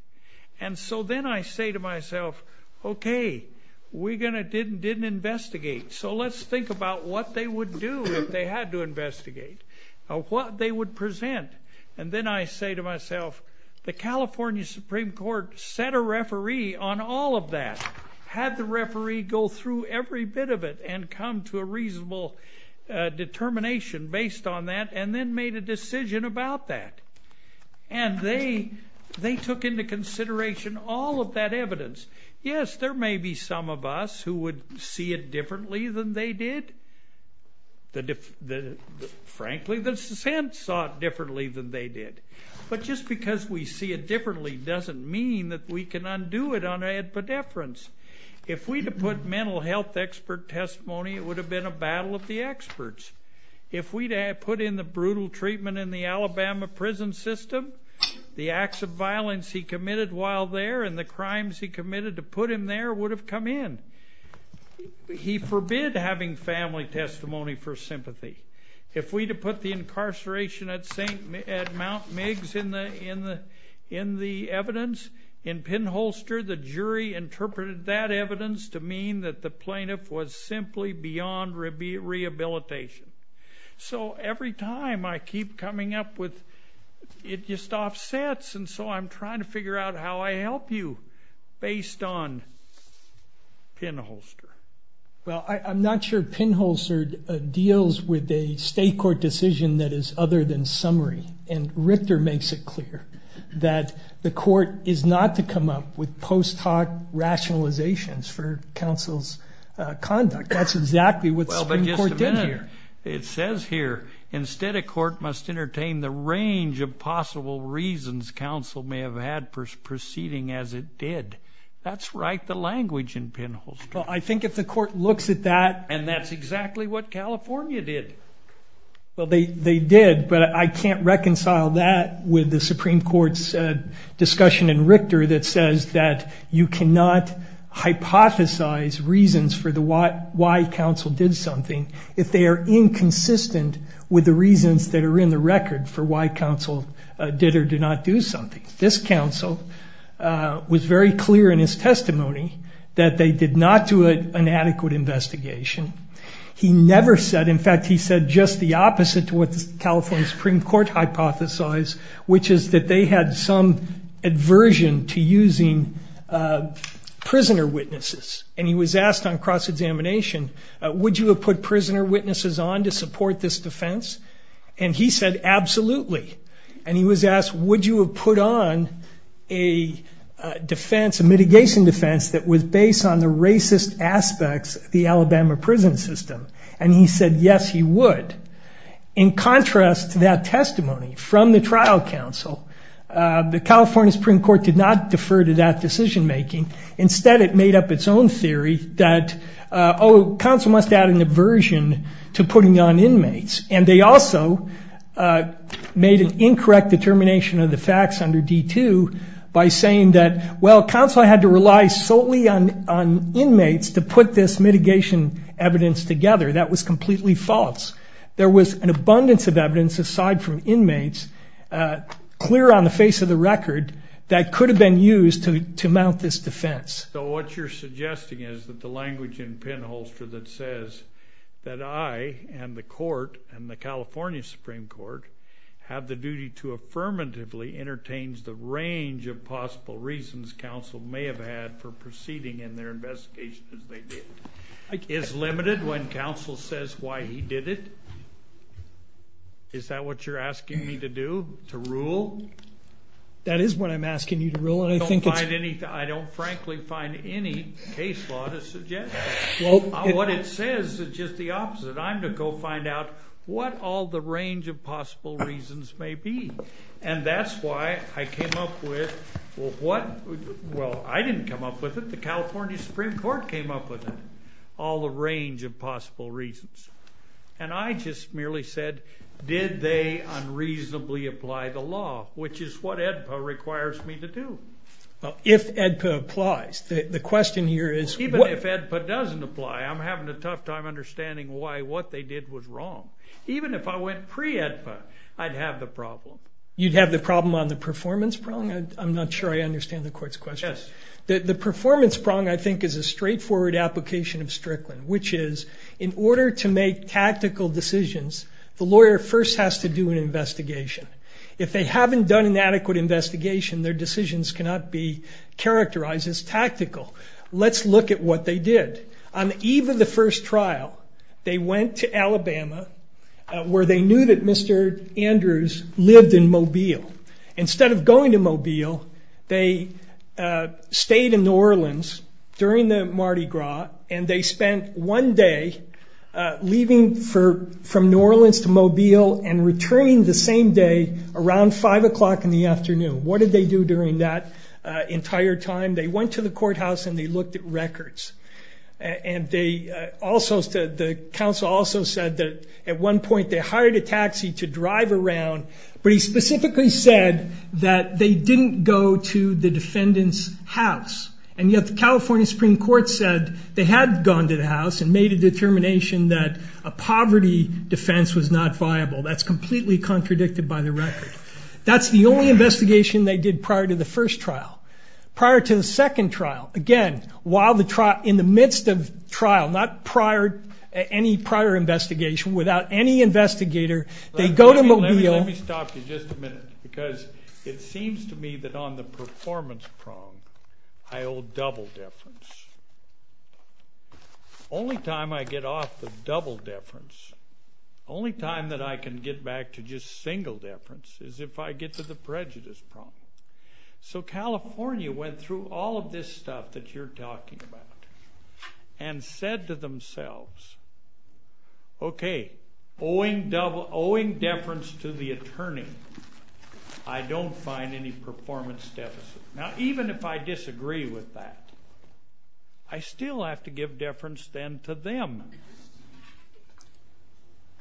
And so then I say to myself, okay, Wiggins didn't investigate, so let's think about what they would do if they had to investigate, what they would present. And then I say to myself, the California Supreme Court set a referee on all of that. Had the referee go through every bit of it and come to a reasonable determination based on that, and then made a decision about that. And they took into consideration all of that evidence. Yes, there may be some of us who would see it differently than they did. Frankly, the defense thought differently than they did. But just because we see it differently doesn't mean that we can undo it on adequate deference. If we had put mental health expert testimony, it would have been a battle of the experts. If we had put in the brutal treatment in the Alabama prison system, the acts of violence he committed while there and the crimes he committed to put in there would have come in. He forbid having family testimony for sympathy. If we had put the incarceration at Mount Meigs in the evidence, in Penholster, the jury interpreted that evidence to mean that the plaintiff was simply beyond rehabilitation. So every time I keep coming up with, it just offsets, and so I'm trying to figure out how I help you based on Penholster. Well, I'm not sure Penholster deals with a state court decision that is other than summary. And Richter makes it clear that the court is not to come up with post hoc rationalizations for counsel's conduct. That's exactly what the court did here. It says here, instead, a court must entertain the range of possible reasons counsel may have had for proceeding as it did. That's right, the language in Penholster. Well, I think if the court looks at that, and that's exactly what California did. Well, they did, but I can't reconcile that with the Supreme Court's discussion in Richter that says that you cannot hypothesize reasons for why counsel did something if they are inconsistent with the reasons that are in the record for why counsel did or did not do something. This counsel was very clear in his testimony that they did not do an adequate investigation. He never said, in fact, he said just the opposite to what the California Supreme Court hypothesized, which is that they had some aversion to using prisoner witnesses. And he was asked on cross-examination, would you have put prisoner witnesses on to support this defense? And he said absolutely. And he was asked, would you have put on a defense, a mitigation defense that was based on the racist aspects of the Alabama prison system? And he said yes, he would. In contrast to that testimony from the trial counsel, the California Supreme Court did not defer to that decision making. Instead, it made up its own theory that, oh, counsel must have an aversion to putting on inmates. And they also made an incorrect determination of the facts under D2 by saying that, well, counsel had to rely solely on inmates to put this mitigation evidence together. That was completely false. There was an abundance of evidence aside from inmates clear on the face of the record that could have been used to mount this defense. So what you're suggesting is that the language in Penholster that says that I and the court and the California Supreme Court have the duty to affirmatively entertain the range of possible reasons counsel may have had for proceeding in their investigation that they did, is limited when counsel says why he did it? Is that what you're asking me to do, to rule? That is what I'm asking you to rule. I don't frankly find any case law to suggest that. What it says is just the opposite. I'm to go find out what all the range of possible reasons may be. And that's why I came up with, well, I didn't come up with it. The California Supreme Court came up with it, all the range of possible reasons. And I just merely said, did they unreasonably apply the law, which is what AEDPA requires me to do. If AEDPA applies, the question here is... Even if AEDPA doesn't apply, I'm having a tough time understanding why what they did was wrong. Even if I went pre-AEDPA, I'd have the problem. You'd have the problem on the performance prong? I'm not sure I understand the court's question. The performance prong, I think, is a straightforward application of Strickland, which is in order to make tactical decisions, the lawyer first has to do an investigation. If they haven't done an adequate investigation, their decisions cannot be characterized as tactical. Let's look at what they did. On the eve of the first trial, they went to Alabama, where they knew that Mr. Andrews lived in Mobile. Instead of going to Mobile, they stayed in New Orleans during the Mardi Gras, and they spent one day leaving from New Orleans to Mobile and returning the same day around 5 o'clock in the afternoon. What did they do during that entire time? They went to the courthouse and they looked at records. The counsel also said that at one point they hired a taxi to drive around, but he specifically said that they didn't go to the defendant's house, and yet the California Supreme Court said they had gone to the house and made a determination that a poverty defense was not viable. That's completely contradicted by the record. That's the only investigation they did prior to the first trial. Prior to the second trial, again, in the midst of trial, not any prior investigation, without any investigator, they go to Mobile. Let me stop you just a minute, because it seems to me that on the performance prong, I owe double deference. Only time I get off the double deference, only time that I can get back to just single deference, is if I get to the prejudice prong. So California went through all of this stuff that you're talking about and said to themselves, okay, owing deference to the attorney, I don't find any performance deficit. Now even if I disagree with that, I still have to give deference then to them.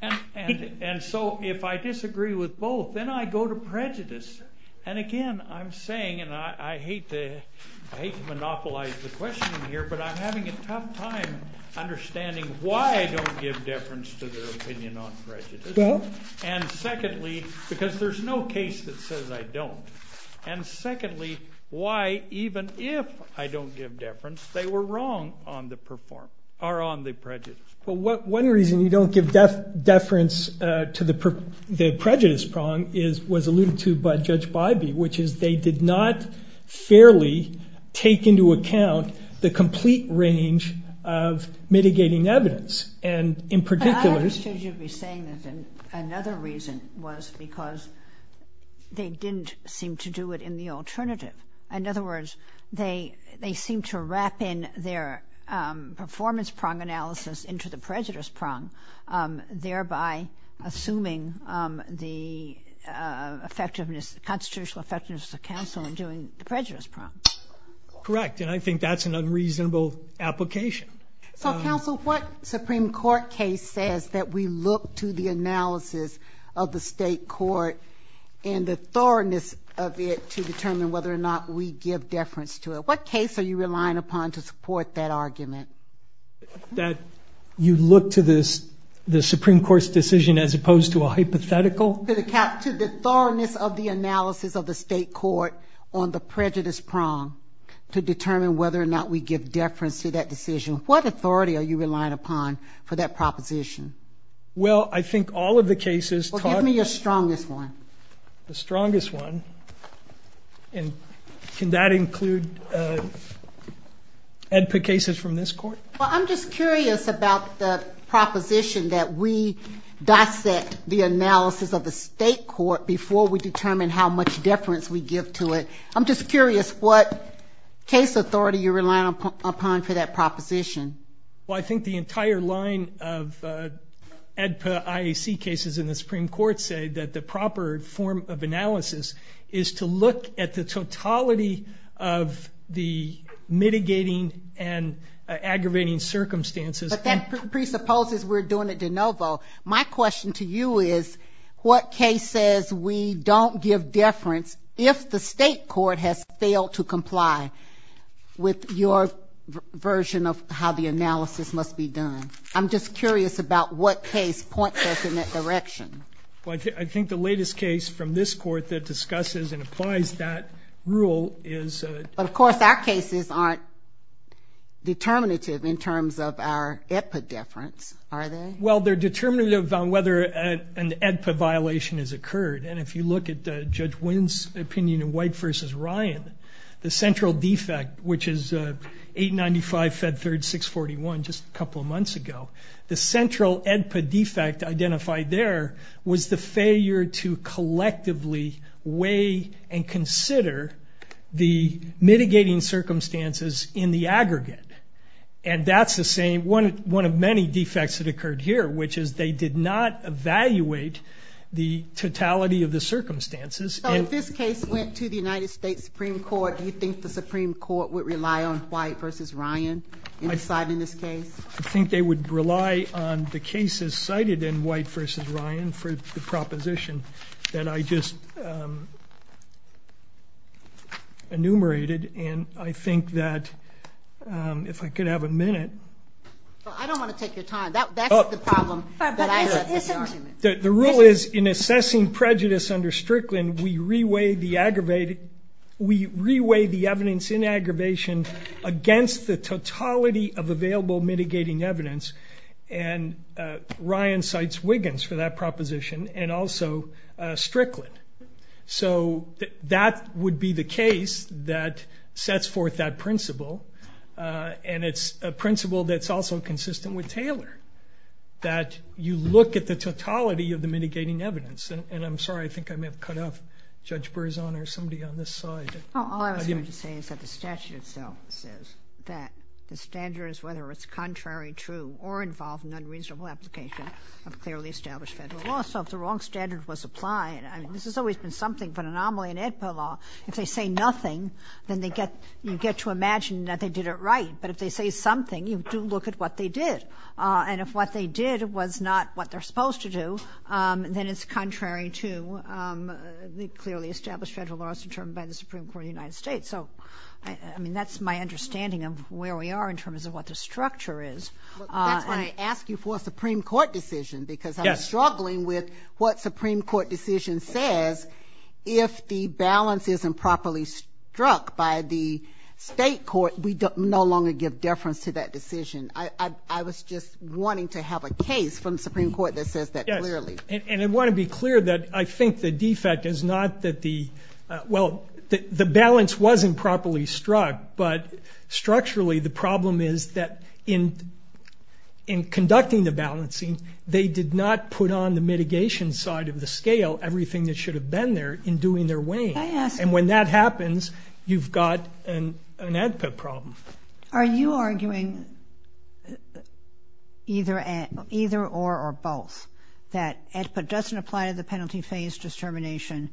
And so if I disagree with both, then I go to prejudice. And again, I'm saying, and I hate to monopolize the question here, but I'm having a tough time understanding why I don't give deference to their opinion on prejudice. And secondly, because there's no case that says I don't. And secondly, why even if I don't give deference, they were wrong on the prejudice. Well, one reason we don't give deference to the prejudice prong was alluded to by Judge Bybee, which is they did not fairly take into account the complete range of mitigating evidence. And in particular... I understand you're saying this, and another reason was because they didn't seem to do it in the alternative. In other words, they seem to wrap in their performance prong analysis into the prejudice prong, thereby assuming the constitutional effectiveness of counsel in doing the prejudice prong. Correct, and I think that's an unreasonable application. Counsel, what Supreme Court case says that we look to the analysis of the state court and the thoroughness of it to determine whether or not we give deference to it. What case are you relying upon to support that argument? That you look to the Supreme Court's decision as opposed to a hypothetical? To the thoroughness of the analysis of the state court on the prejudice prong to determine whether or not we give deference to that decision. What authority are you relying upon for that proposition? Well, I think all of the cases... Give me the strongest one. The strongest one? And can that include AEDPA cases from this court? Well, I'm just curious about the proposition that we dissect the analysis of the state court before we determine how much deference we give to it. I'm just curious what case authority you're relying upon for that proposition. Well, I think the entire line of AEDPA IAC cases in the Supreme Court say that the proper form of analysis is to look at the totality of the mitigating and aggravating circumstances. But that presupposes we're doing it de novo. My question to you is what case says we don't give deference if the state court has failed to comply with your version of how the analysis must be done? I'm just curious about what case points us in that direction. Well, I think the latest case from this court that discusses and applies that rule is... But of course our cases aren't determinative in terms of our AEDPA deference, are they? Well, they're determinative on whether an AEDPA violation has occurred. And if you look at Judge Wynn's opinion in White v. Ryan, the central defect, which is 895, Fed 3rd, 641, just a couple of months ago, the central AEDPA defect identified there was the failure to collectively weigh and consider the mitigating circumstances in the aggregate. And that's the same, one of many defects that occurred here, which is they did not evaluate the totality of the circumstances. So if this case went to the United States Supreme Court, do you think the Supreme Court would rely on White v. Ryan in deciding this case? I think they would rely on the cases cited in White v. Ryan for the proposition that I just enumerated. And I think that if I could have a minute... I don't want to take your time. That's the problem. The rule is in assessing prejudice under Strickland, we re-weigh the evidence in aggravation against the totality of available mitigating evidence, and Ryan cites Wiggins for that proposition and also Strickland. So that would be the case that sets forth that principle, and it's a principle that's also consistent with Taylor, that you look at the totality of the mitigating evidence. And I'm sorry, I think I may have cut off Judge Berzon or somebody on this side. All I was going to say is that the statute itself says that the standards, whether it's contrary, true, or involved in unreasonable application of clearly established federal law, so if the wrong standard was applied, and this has always been something but anomaly in AEDPA law, if they say nothing, then you get to imagine that they did it right. But if they say something, you do look at what they did. And if what they did was not what they're supposed to do, then it's contrary to the clearly established federal laws determined by the Supreme Court of the United States. So, I mean, that's my understanding of where we are in terms of what the structure is. And I ask you for a Supreme Court decision, because I'm struggling with what Supreme Court decision says. If the balance is improperly struck by the state court, we no longer give deference to that decision. I was just wanting to have a case from the Supreme Court that says that clearly. And I want to be clear that I think the defect is not that the, well, the balance wasn't properly struck, but structurally the problem is that in conducting the balancing, they did not put on the mitigation side of the scale everything that should have been there in doing their weighing. And when that happens, you've got an AEDPA problem. Are you arguing either or or both? That AEDPA doesn't apply to the penalty phase determination,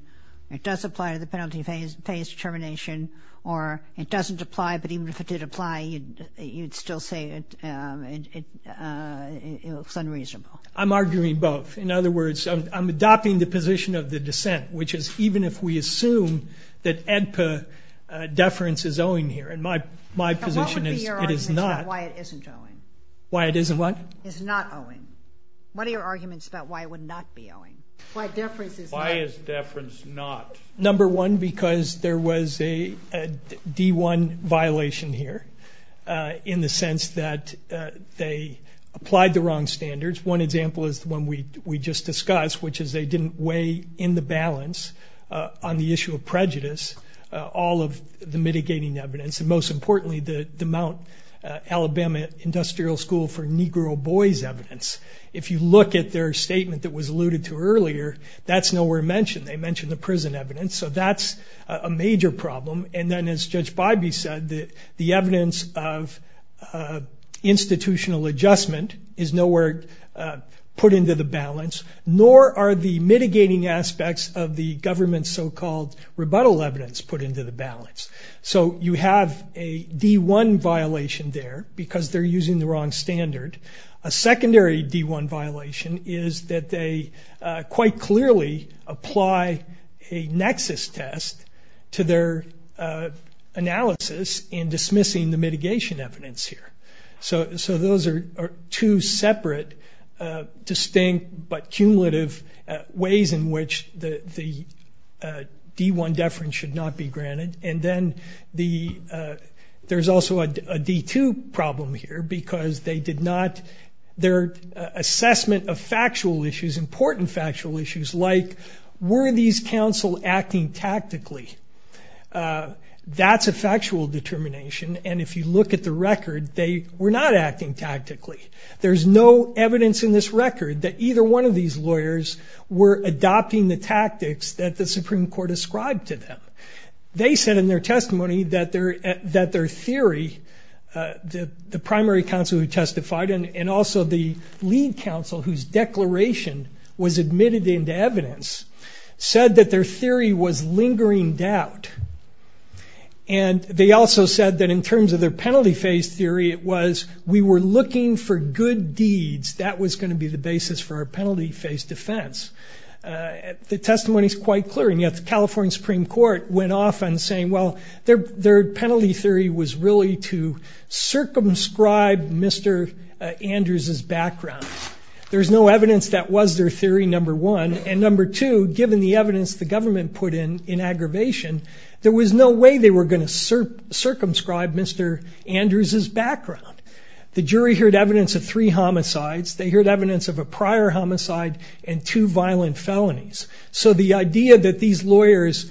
it does apply to the penalty phase determination, or it doesn't apply, but even if it did apply, you'd still say it's unreasonable. I'm arguing both. In other words, I'm adopting the position of the dissent, which is even if we assume that AEDPA deference is owing here, and my position is it is not. What would be your argument about why it isn't owing? Why it isn't what? It's not owing. What are your arguments about why it would not be owing? Why is deference not? Number one, because there was a D1 violation here in the sense that they applied the wrong standards. One example is the one we just discussed, which is they didn't weigh in the balance on the issue of prejudice, all of the mitigating evidence, and most importantly, the Mount Alabama Industrial School for Negro Boys evidence. If you look at their statement that was alluded to earlier, that's nowhere mentioned. They mentioned the prison evidence, so that's a major problem, and then as Judge Bybee said, the evidence of institutional adjustment is nowhere put into the balance, nor are the mitigating aspects of the government's so-called rebuttal evidence put into the balance. So you have a D1 violation there because they're using the wrong standard. A secondary D1 violation is that they quite clearly apply a nexus test to their analysis in dismissing the mitigation evidence here. So those are two separate distinct but cumulative ways in which the D1 deference should not be granted, and then there's also a D2 problem here because their assessment of factual issues, important factual issues like were these counsel acting tactically, that's a factual determination, and if you look at the record, they were not acting tactically. There's no evidence in this record that either one of these lawyers were adopting the tactics that the Supreme Court ascribed to them. They said in their testimony that their theory, the primary counsel who testified and also the lead counsel whose declaration was admitted into evidence, said that their theory was lingering doubt, and they also said that in terms of their penalty phase theory it was we were looking for good deeds, that was going to be the basis for our penalty phase defense. The testimony is quite clear, and yet the California Supreme Court went off on saying, well, their penalty theory was really to circumscribe Mr. Andrews' background. There's no evidence that was their theory, number one, and number two, given the evidence the government put in in aggravation, there was no way they were going to circumscribe Mr. Andrews' background. The jury heard evidence of three homicides. They heard evidence of a prior homicide and two violent felonies. So the idea that these lawyers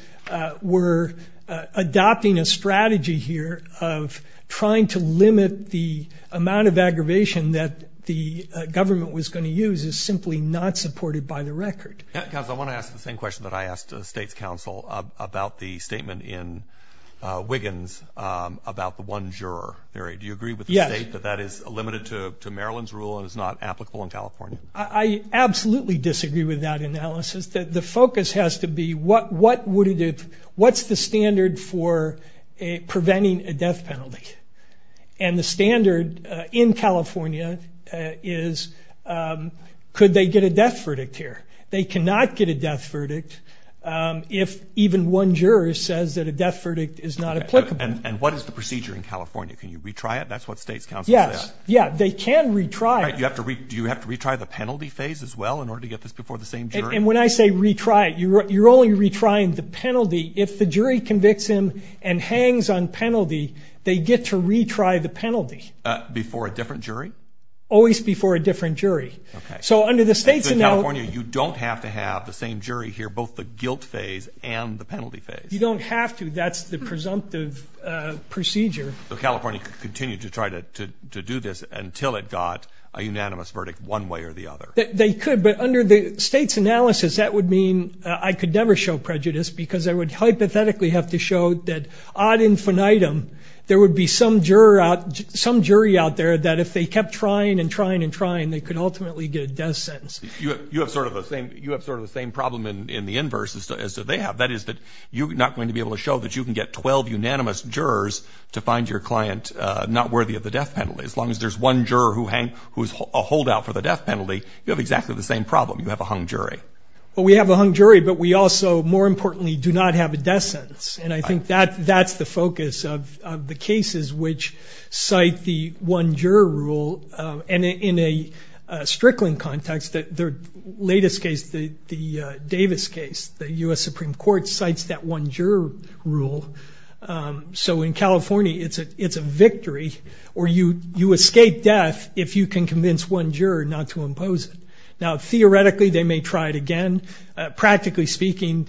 were adopting a strategy here of trying to limit the amount of aggravation that the government was going to use is simply not supported by the record. Yes, counsel, I want to ask the same question that I asked the state counsel about the statement in Wiggins about the one juror theory. Do you agree with the state that that is limited to Maryland's rule and is not applicable in California? I absolutely disagree with that analysis. The focus has to be what's the standard for preventing a death penalty, and the standard in California is could they get a death verdict here. They cannot get a death verdict if even one juror says that a death verdict is not applicable. And what is the procedure in California? Can you retry it? That's what the state counsel said. Yes. Yeah, they can retry it. You have to retry the penalty phase as well in order to get this before the same jury? And when I say retry it, you're only retrying the penalty. If the jury convicts him and hangs on penalty, they get to retry the penalty. Before a different jury? Always before a different jury. Okay. So under the state's analysis. So in California, you don't have to have the same jury here, both the guilt phase and the penalty phase? You don't have to. That's the presumptive procedure. So California could continue to try to do this until it got a unanimous verdict one way or the other? They could, but under the state's analysis, that would mean I could never show prejudice because I would hypothetically have to show that ad infinitum, there would be some jury out there that if they kept trying and trying and trying, they could ultimately get a death sentence. You have sort of the same problem in the inverse as they have. That is that you're not going to be able to show that you can get 12 unanimous jurors to find your client not worthy of the death penalty. As long as there's one juror who's a holdout for the death penalty, you have exactly the same problem. You have a hung jury. Well, we have a hung jury, but we also, more importantly, do not have a death sentence. And I think that's the focus of the cases which cite the one-juror rule. And in a Strickland context, the latest case, the Davis case, the U.S. Supreme Court cites that one-juror rule. So in California, it's a victory or you escape death if you can convince one juror not to impose it. Now, theoretically, they may try it again. Practically speaking,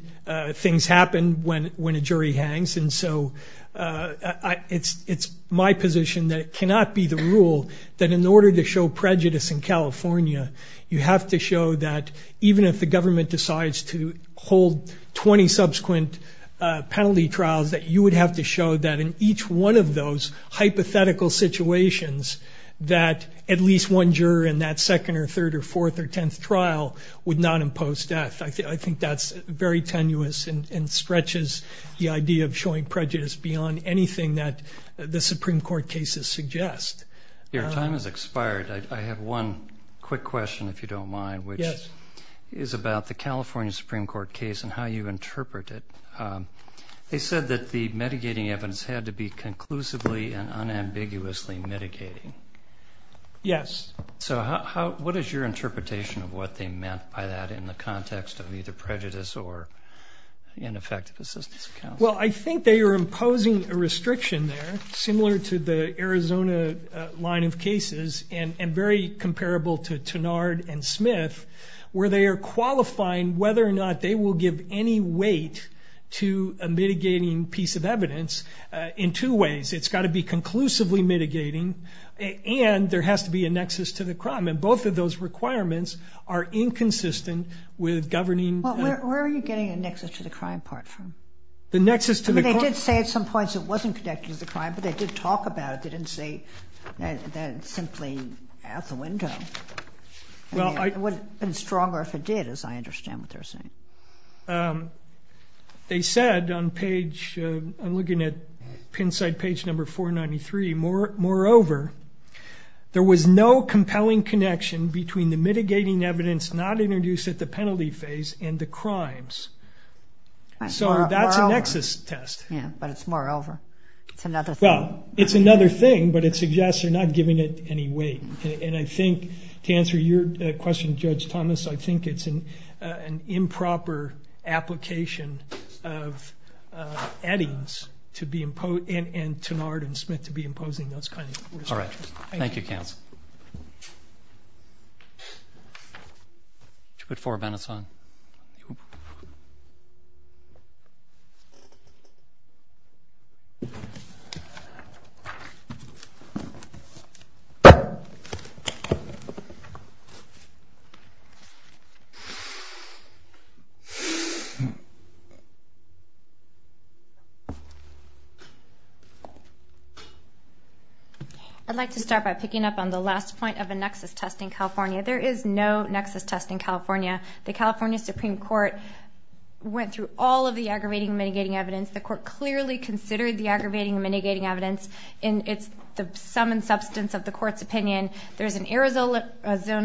things happen when a jury hangs. And so it's my position that it cannot be the rule that in order to show prejudice in California, you have to show that even if the government decides to hold 20 subsequent penalty trials, that you would have to show that in each one of those hypothetical situations, that at least one juror in that second or third or fourth or tenth trial would not impose death. I think that's very tenuous and stretches the idea of showing prejudice beyond anything that the Supreme Court cases suggest. Your time has expired. I have one quick question, if you don't mind, which is about the California Supreme Court case and how you interpret it. They said that the mitigating evidence had to be conclusively and unambiguously mitigating. Yes. So what is your interpretation of what they meant by that in the context of either prejudice or ineffective assistance? Well, I think they are imposing a restriction there similar to the Arizona line of cases and very comparable to Tannard and Smith, where they are qualifying whether or not they will give any weight to a mitigating piece of evidence in two ways. It's got to be conclusively mitigating and there has to be a nexus to the crime. And both of those requirements are inconsistent with governing. Well, where are you getting a nexus to the crime part from? The nexus to the crime. They did say at some points it wasn't connected to the crime, but they did talk about it. They didn't say that it's simply out the window. It would have been stronger if it did, as I understand what they're saying. They said on page, I'm looking at pin side page number 493, moreover, there was no compelling connection between the mitigating evidence not introduced at the penalty phase and the crimes. So that's a nexus test. Yeah, but it's moreover. It's another thing. Well, it's another thing, but it suggests you're not giving it any weight. And I think to answer your question, Judge Thomas, I think it's an improper application of adding to be imposed and to Martin Smith to be imposing those kind of. All right. Thank you. Good for a benefit. I'd like to start by picking up on the last point of a nexus test in California. There is no nexus test in California. The California Supreme Court went through all of the aggravating mitigating evidence. The court clearly considered the aggravating mitigating evidence. And it's the sum and substance of the court's opinion. There's an Arizona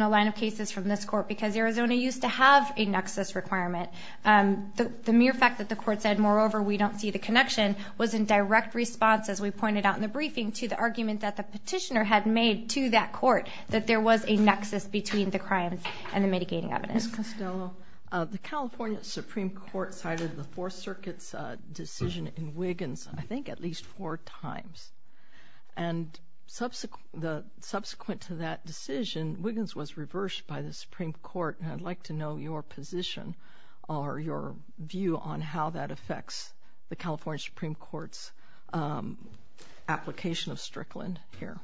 line of cases from this court because Arizona used to have a nexus requirement. The mere fact that the court said, moreover, we don't see the connection, was in direct response, as we pointed out in the briefing, to the argument that the petitioner had made to that court that there was a nexus between the crimes and the mitigating evidence. So the California Supreme Court cited the Fourth Circuit's decision in Wiggins, I think, at least four times. And subsequent to that decision, Wiggins was reversed by the Supreme Court. And I'd like to know your position or your view on how that affects the California Supreme Court's application of Strickland here.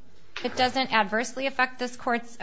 It doesn't adversely affect this court's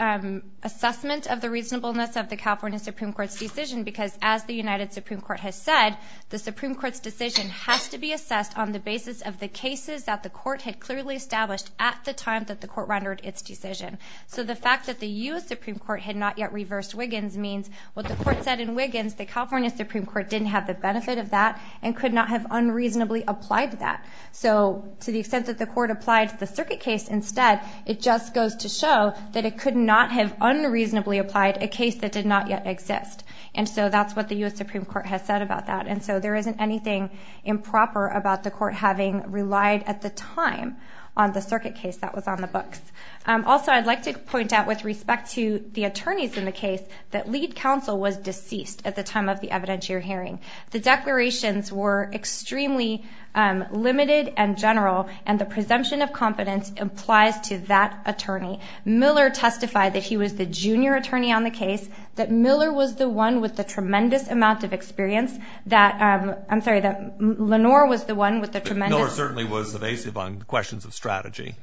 assessment of the reasonableness of the California Supreme Court's decision because, as the United Supreme Court has said, the Supreme Court's decision has to be assessed on the basis of the cases that the court had clearly established at the time that the court rendered its decision. So the fact that the U.S. Supreme Court had not yet reversed Wiggins means what the court said in Wiggins, the California Supreme Court didn't have the benefit of that and could not have unreasonably applied that. So to the extent that the court applied the circuit case instead, it just goes to show that it could not have unreasonably applied a case that did not yet exist. And so that's what the U.S. Supreme Court has said about that. And so there isn't anything improper about the court having relied at the time on the circuit case that was on the books. Also, I'd like to point out, with respect to the attorneys in the case, that lead counsel was deceased at the time of the evidentiary hearing. The declarations were extremely limited and general, and the presumption of competence applies to that attorney. Miller testified that he was the junior attorney on the case, that Miller was the one with the tremendous amount of experience, that, I'm sorry, that Lenore was the one with the tremendous... Miller certainly was evasive on questions of strategy.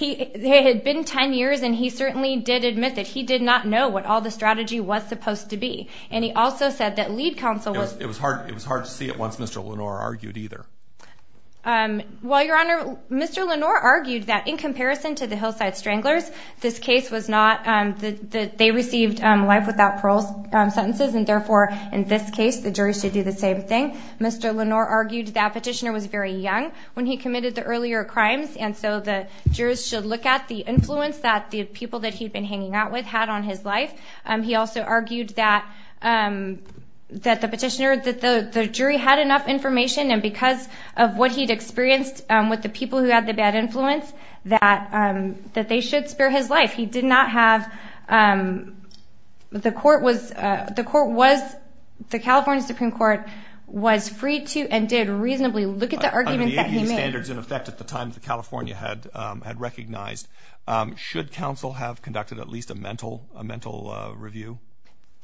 It had been 10 years, and he certainly did admit that he did not know what all the strategy was supposed to be. And he also said that lead counsel was... It was hard to see it once Mr. Lenore argued either. Well, Your Honor, Mr. Lenore argued that, in comparison to the Hillside Stranglers, this case was not... they received life without parole sentences, and therefore, in this case, the juries should do the same thing. Mr. Lenore argued that the petitioner was very young when he committed the earlier crimes, and so the jurors should look at the influence that the people that he'd been hanging out with had on his life. He also argued that the petitioner, that the jury had enough information, and because of what he'd experienced with the people who had the bad influence, that they should spare his life. He did not have... the court was... the California Supreme Court was free to and did reasonably look at the arguments that he made. There were standards in effect at the time that California had recognized. Should counsel have conducted at least a mental review?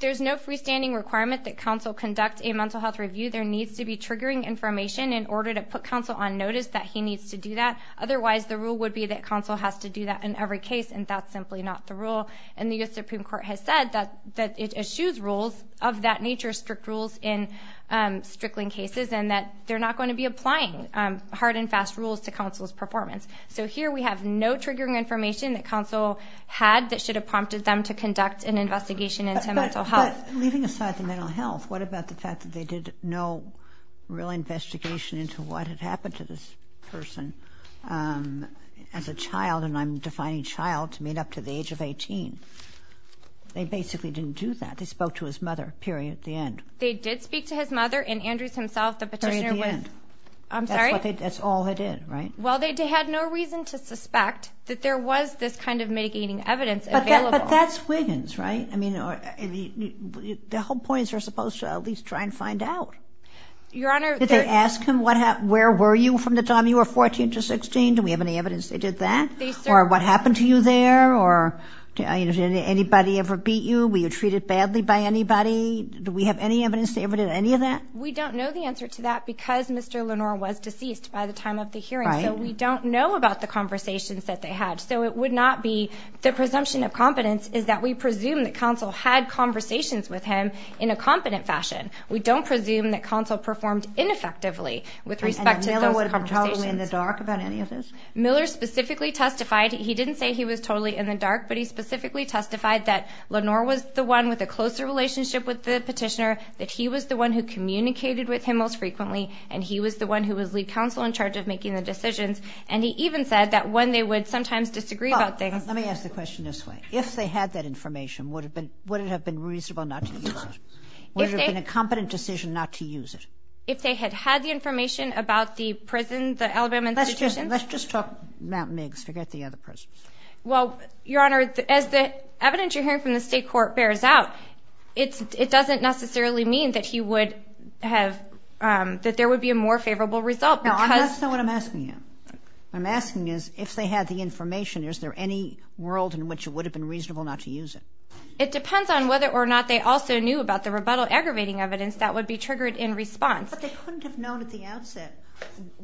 There's no freestanding requirement that counsel conduct a mental health review. There needs to be triggering information in order to put counsel on notice that he needs to do that. Otherwise, the rule would be that counsel has to do that in every case, and that's simply not the rule. And the U.S. Supreme Court has said that it eschews rules of that nature, strict rules in strickling cases, and that they're not going to be applying hard and fast rules to counsel's performance. So here we have no triggering information that counsel had that should have prompted them to conduct an investigation into mental health. But leaving aside the mental health, what about the fact that they did no real investigation into what had happened to this person as a child, and I'm defining child to mean up to the age of 18? They basically didn't do that. They spoke to his mother, period, at the end. They did speak to his mother and Andrews himself. At the end. I'm sorry? That's all they did, right? Well, they had no reason to suspect that there was this kind of mitigating evidence available. But that's witness, right? I mean, the whole point is you're supposed to at least try and find out. Your Honor. Did they ask him where were you from the time you were 14 to 16? Do we have any evidence they did that? Or what happened to you there? Or did anybody ever beat you? Were you treated badly by anybody? Do we have any evidence they ever did any of that? We don't know the answer to that because Mr. Lenore was deceased by the time of the hearing. Right. So we don't know about the conversations that they had. So it would not be the presumption of confidence is that we presume that counsel had conversations with him in a confident fashion. We don't presume that counsel performed ineffectively with respect to those conversations. And Miller was totally in the dark about any of this? Miller specifically testified. He didn't say he was totally in the dark, but he specifically testified that Lenore was the one with a closer relationship with the petitioner, that he was the one who communicated with him most frequently, and he was the one who was lead counsel in charge of making the decisions. And he even said that when they would sometimes disagree about things. Let me ask the question this way. If they had that information, would it have been reasonable not to use it? Would it have been a competent decision not to use it? If they had had the information about the prison, the elder men's institution. Let's just talk about Miggs. Forget the other prisoners. Well, Your Honor, as the evidence you're hearing from the state court bears out, it doesn't necessarily mean that there would be a more favorable result. That's not what I'm asking you. What I'm asking is if they had the information, is there any world in which it would have been reasonable not to use it? It depends on whether or not they also knew about the rebuttal aggravating evidence that would be triggered in response. But they couldn't have known at the outset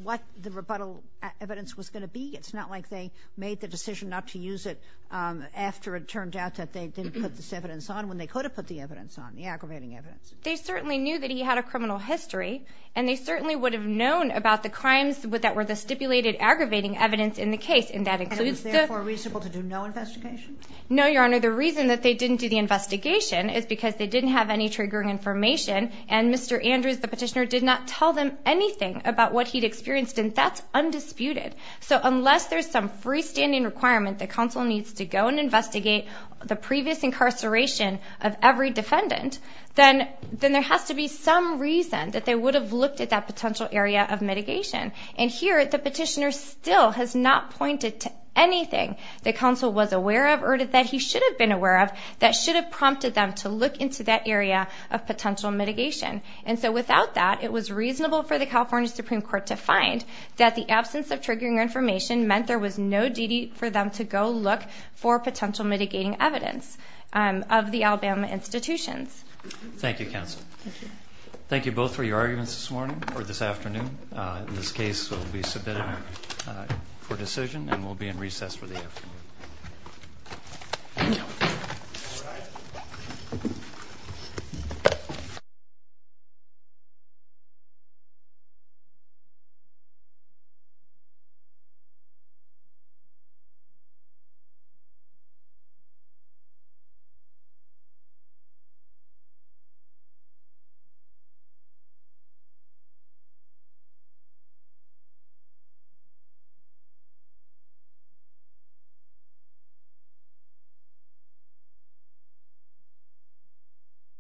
what the rebuttal evidence was going to be. It's not like they made the decision not to use it after it turned out that they didn't put this evidence on, when they could have put the evidence on, the aggravating evidence. They certainly knew that he had a criminal history, and they certainly would have known about the crimes that were the stipulated aggravating evidence in the case. And that includes the – And it's therefore reasonable to do no investigation? No, Your Honor. The reason that they didn't do the investigation is because they didn't have any triggering information, and Mr. Andrews, the petitioner, did not tell them anything about what he'd experienced, and that's undisputed. So unless there's some freestanding requirement that counsel needs to go and investigate the previous incarceration of every defendant, then there has to be some reason that they would have looked at that potential area of mitigation. And here, the petitioner still has not pointed to anything that counsel was aware of or that he should have been aware of that should have prompted them to look into that area of potential mitigation. And so without that, it was reasonable for the California Supreme Court to find that the absence of triggering information meant there was no duty for them to go look for potential mitigating evidence of the Alabama institutions. Thank you, counsel. Thank you both for your arguments this morning or this afternoon. This case will be submitted for decision and will be in recess for the afternoon. Thank you.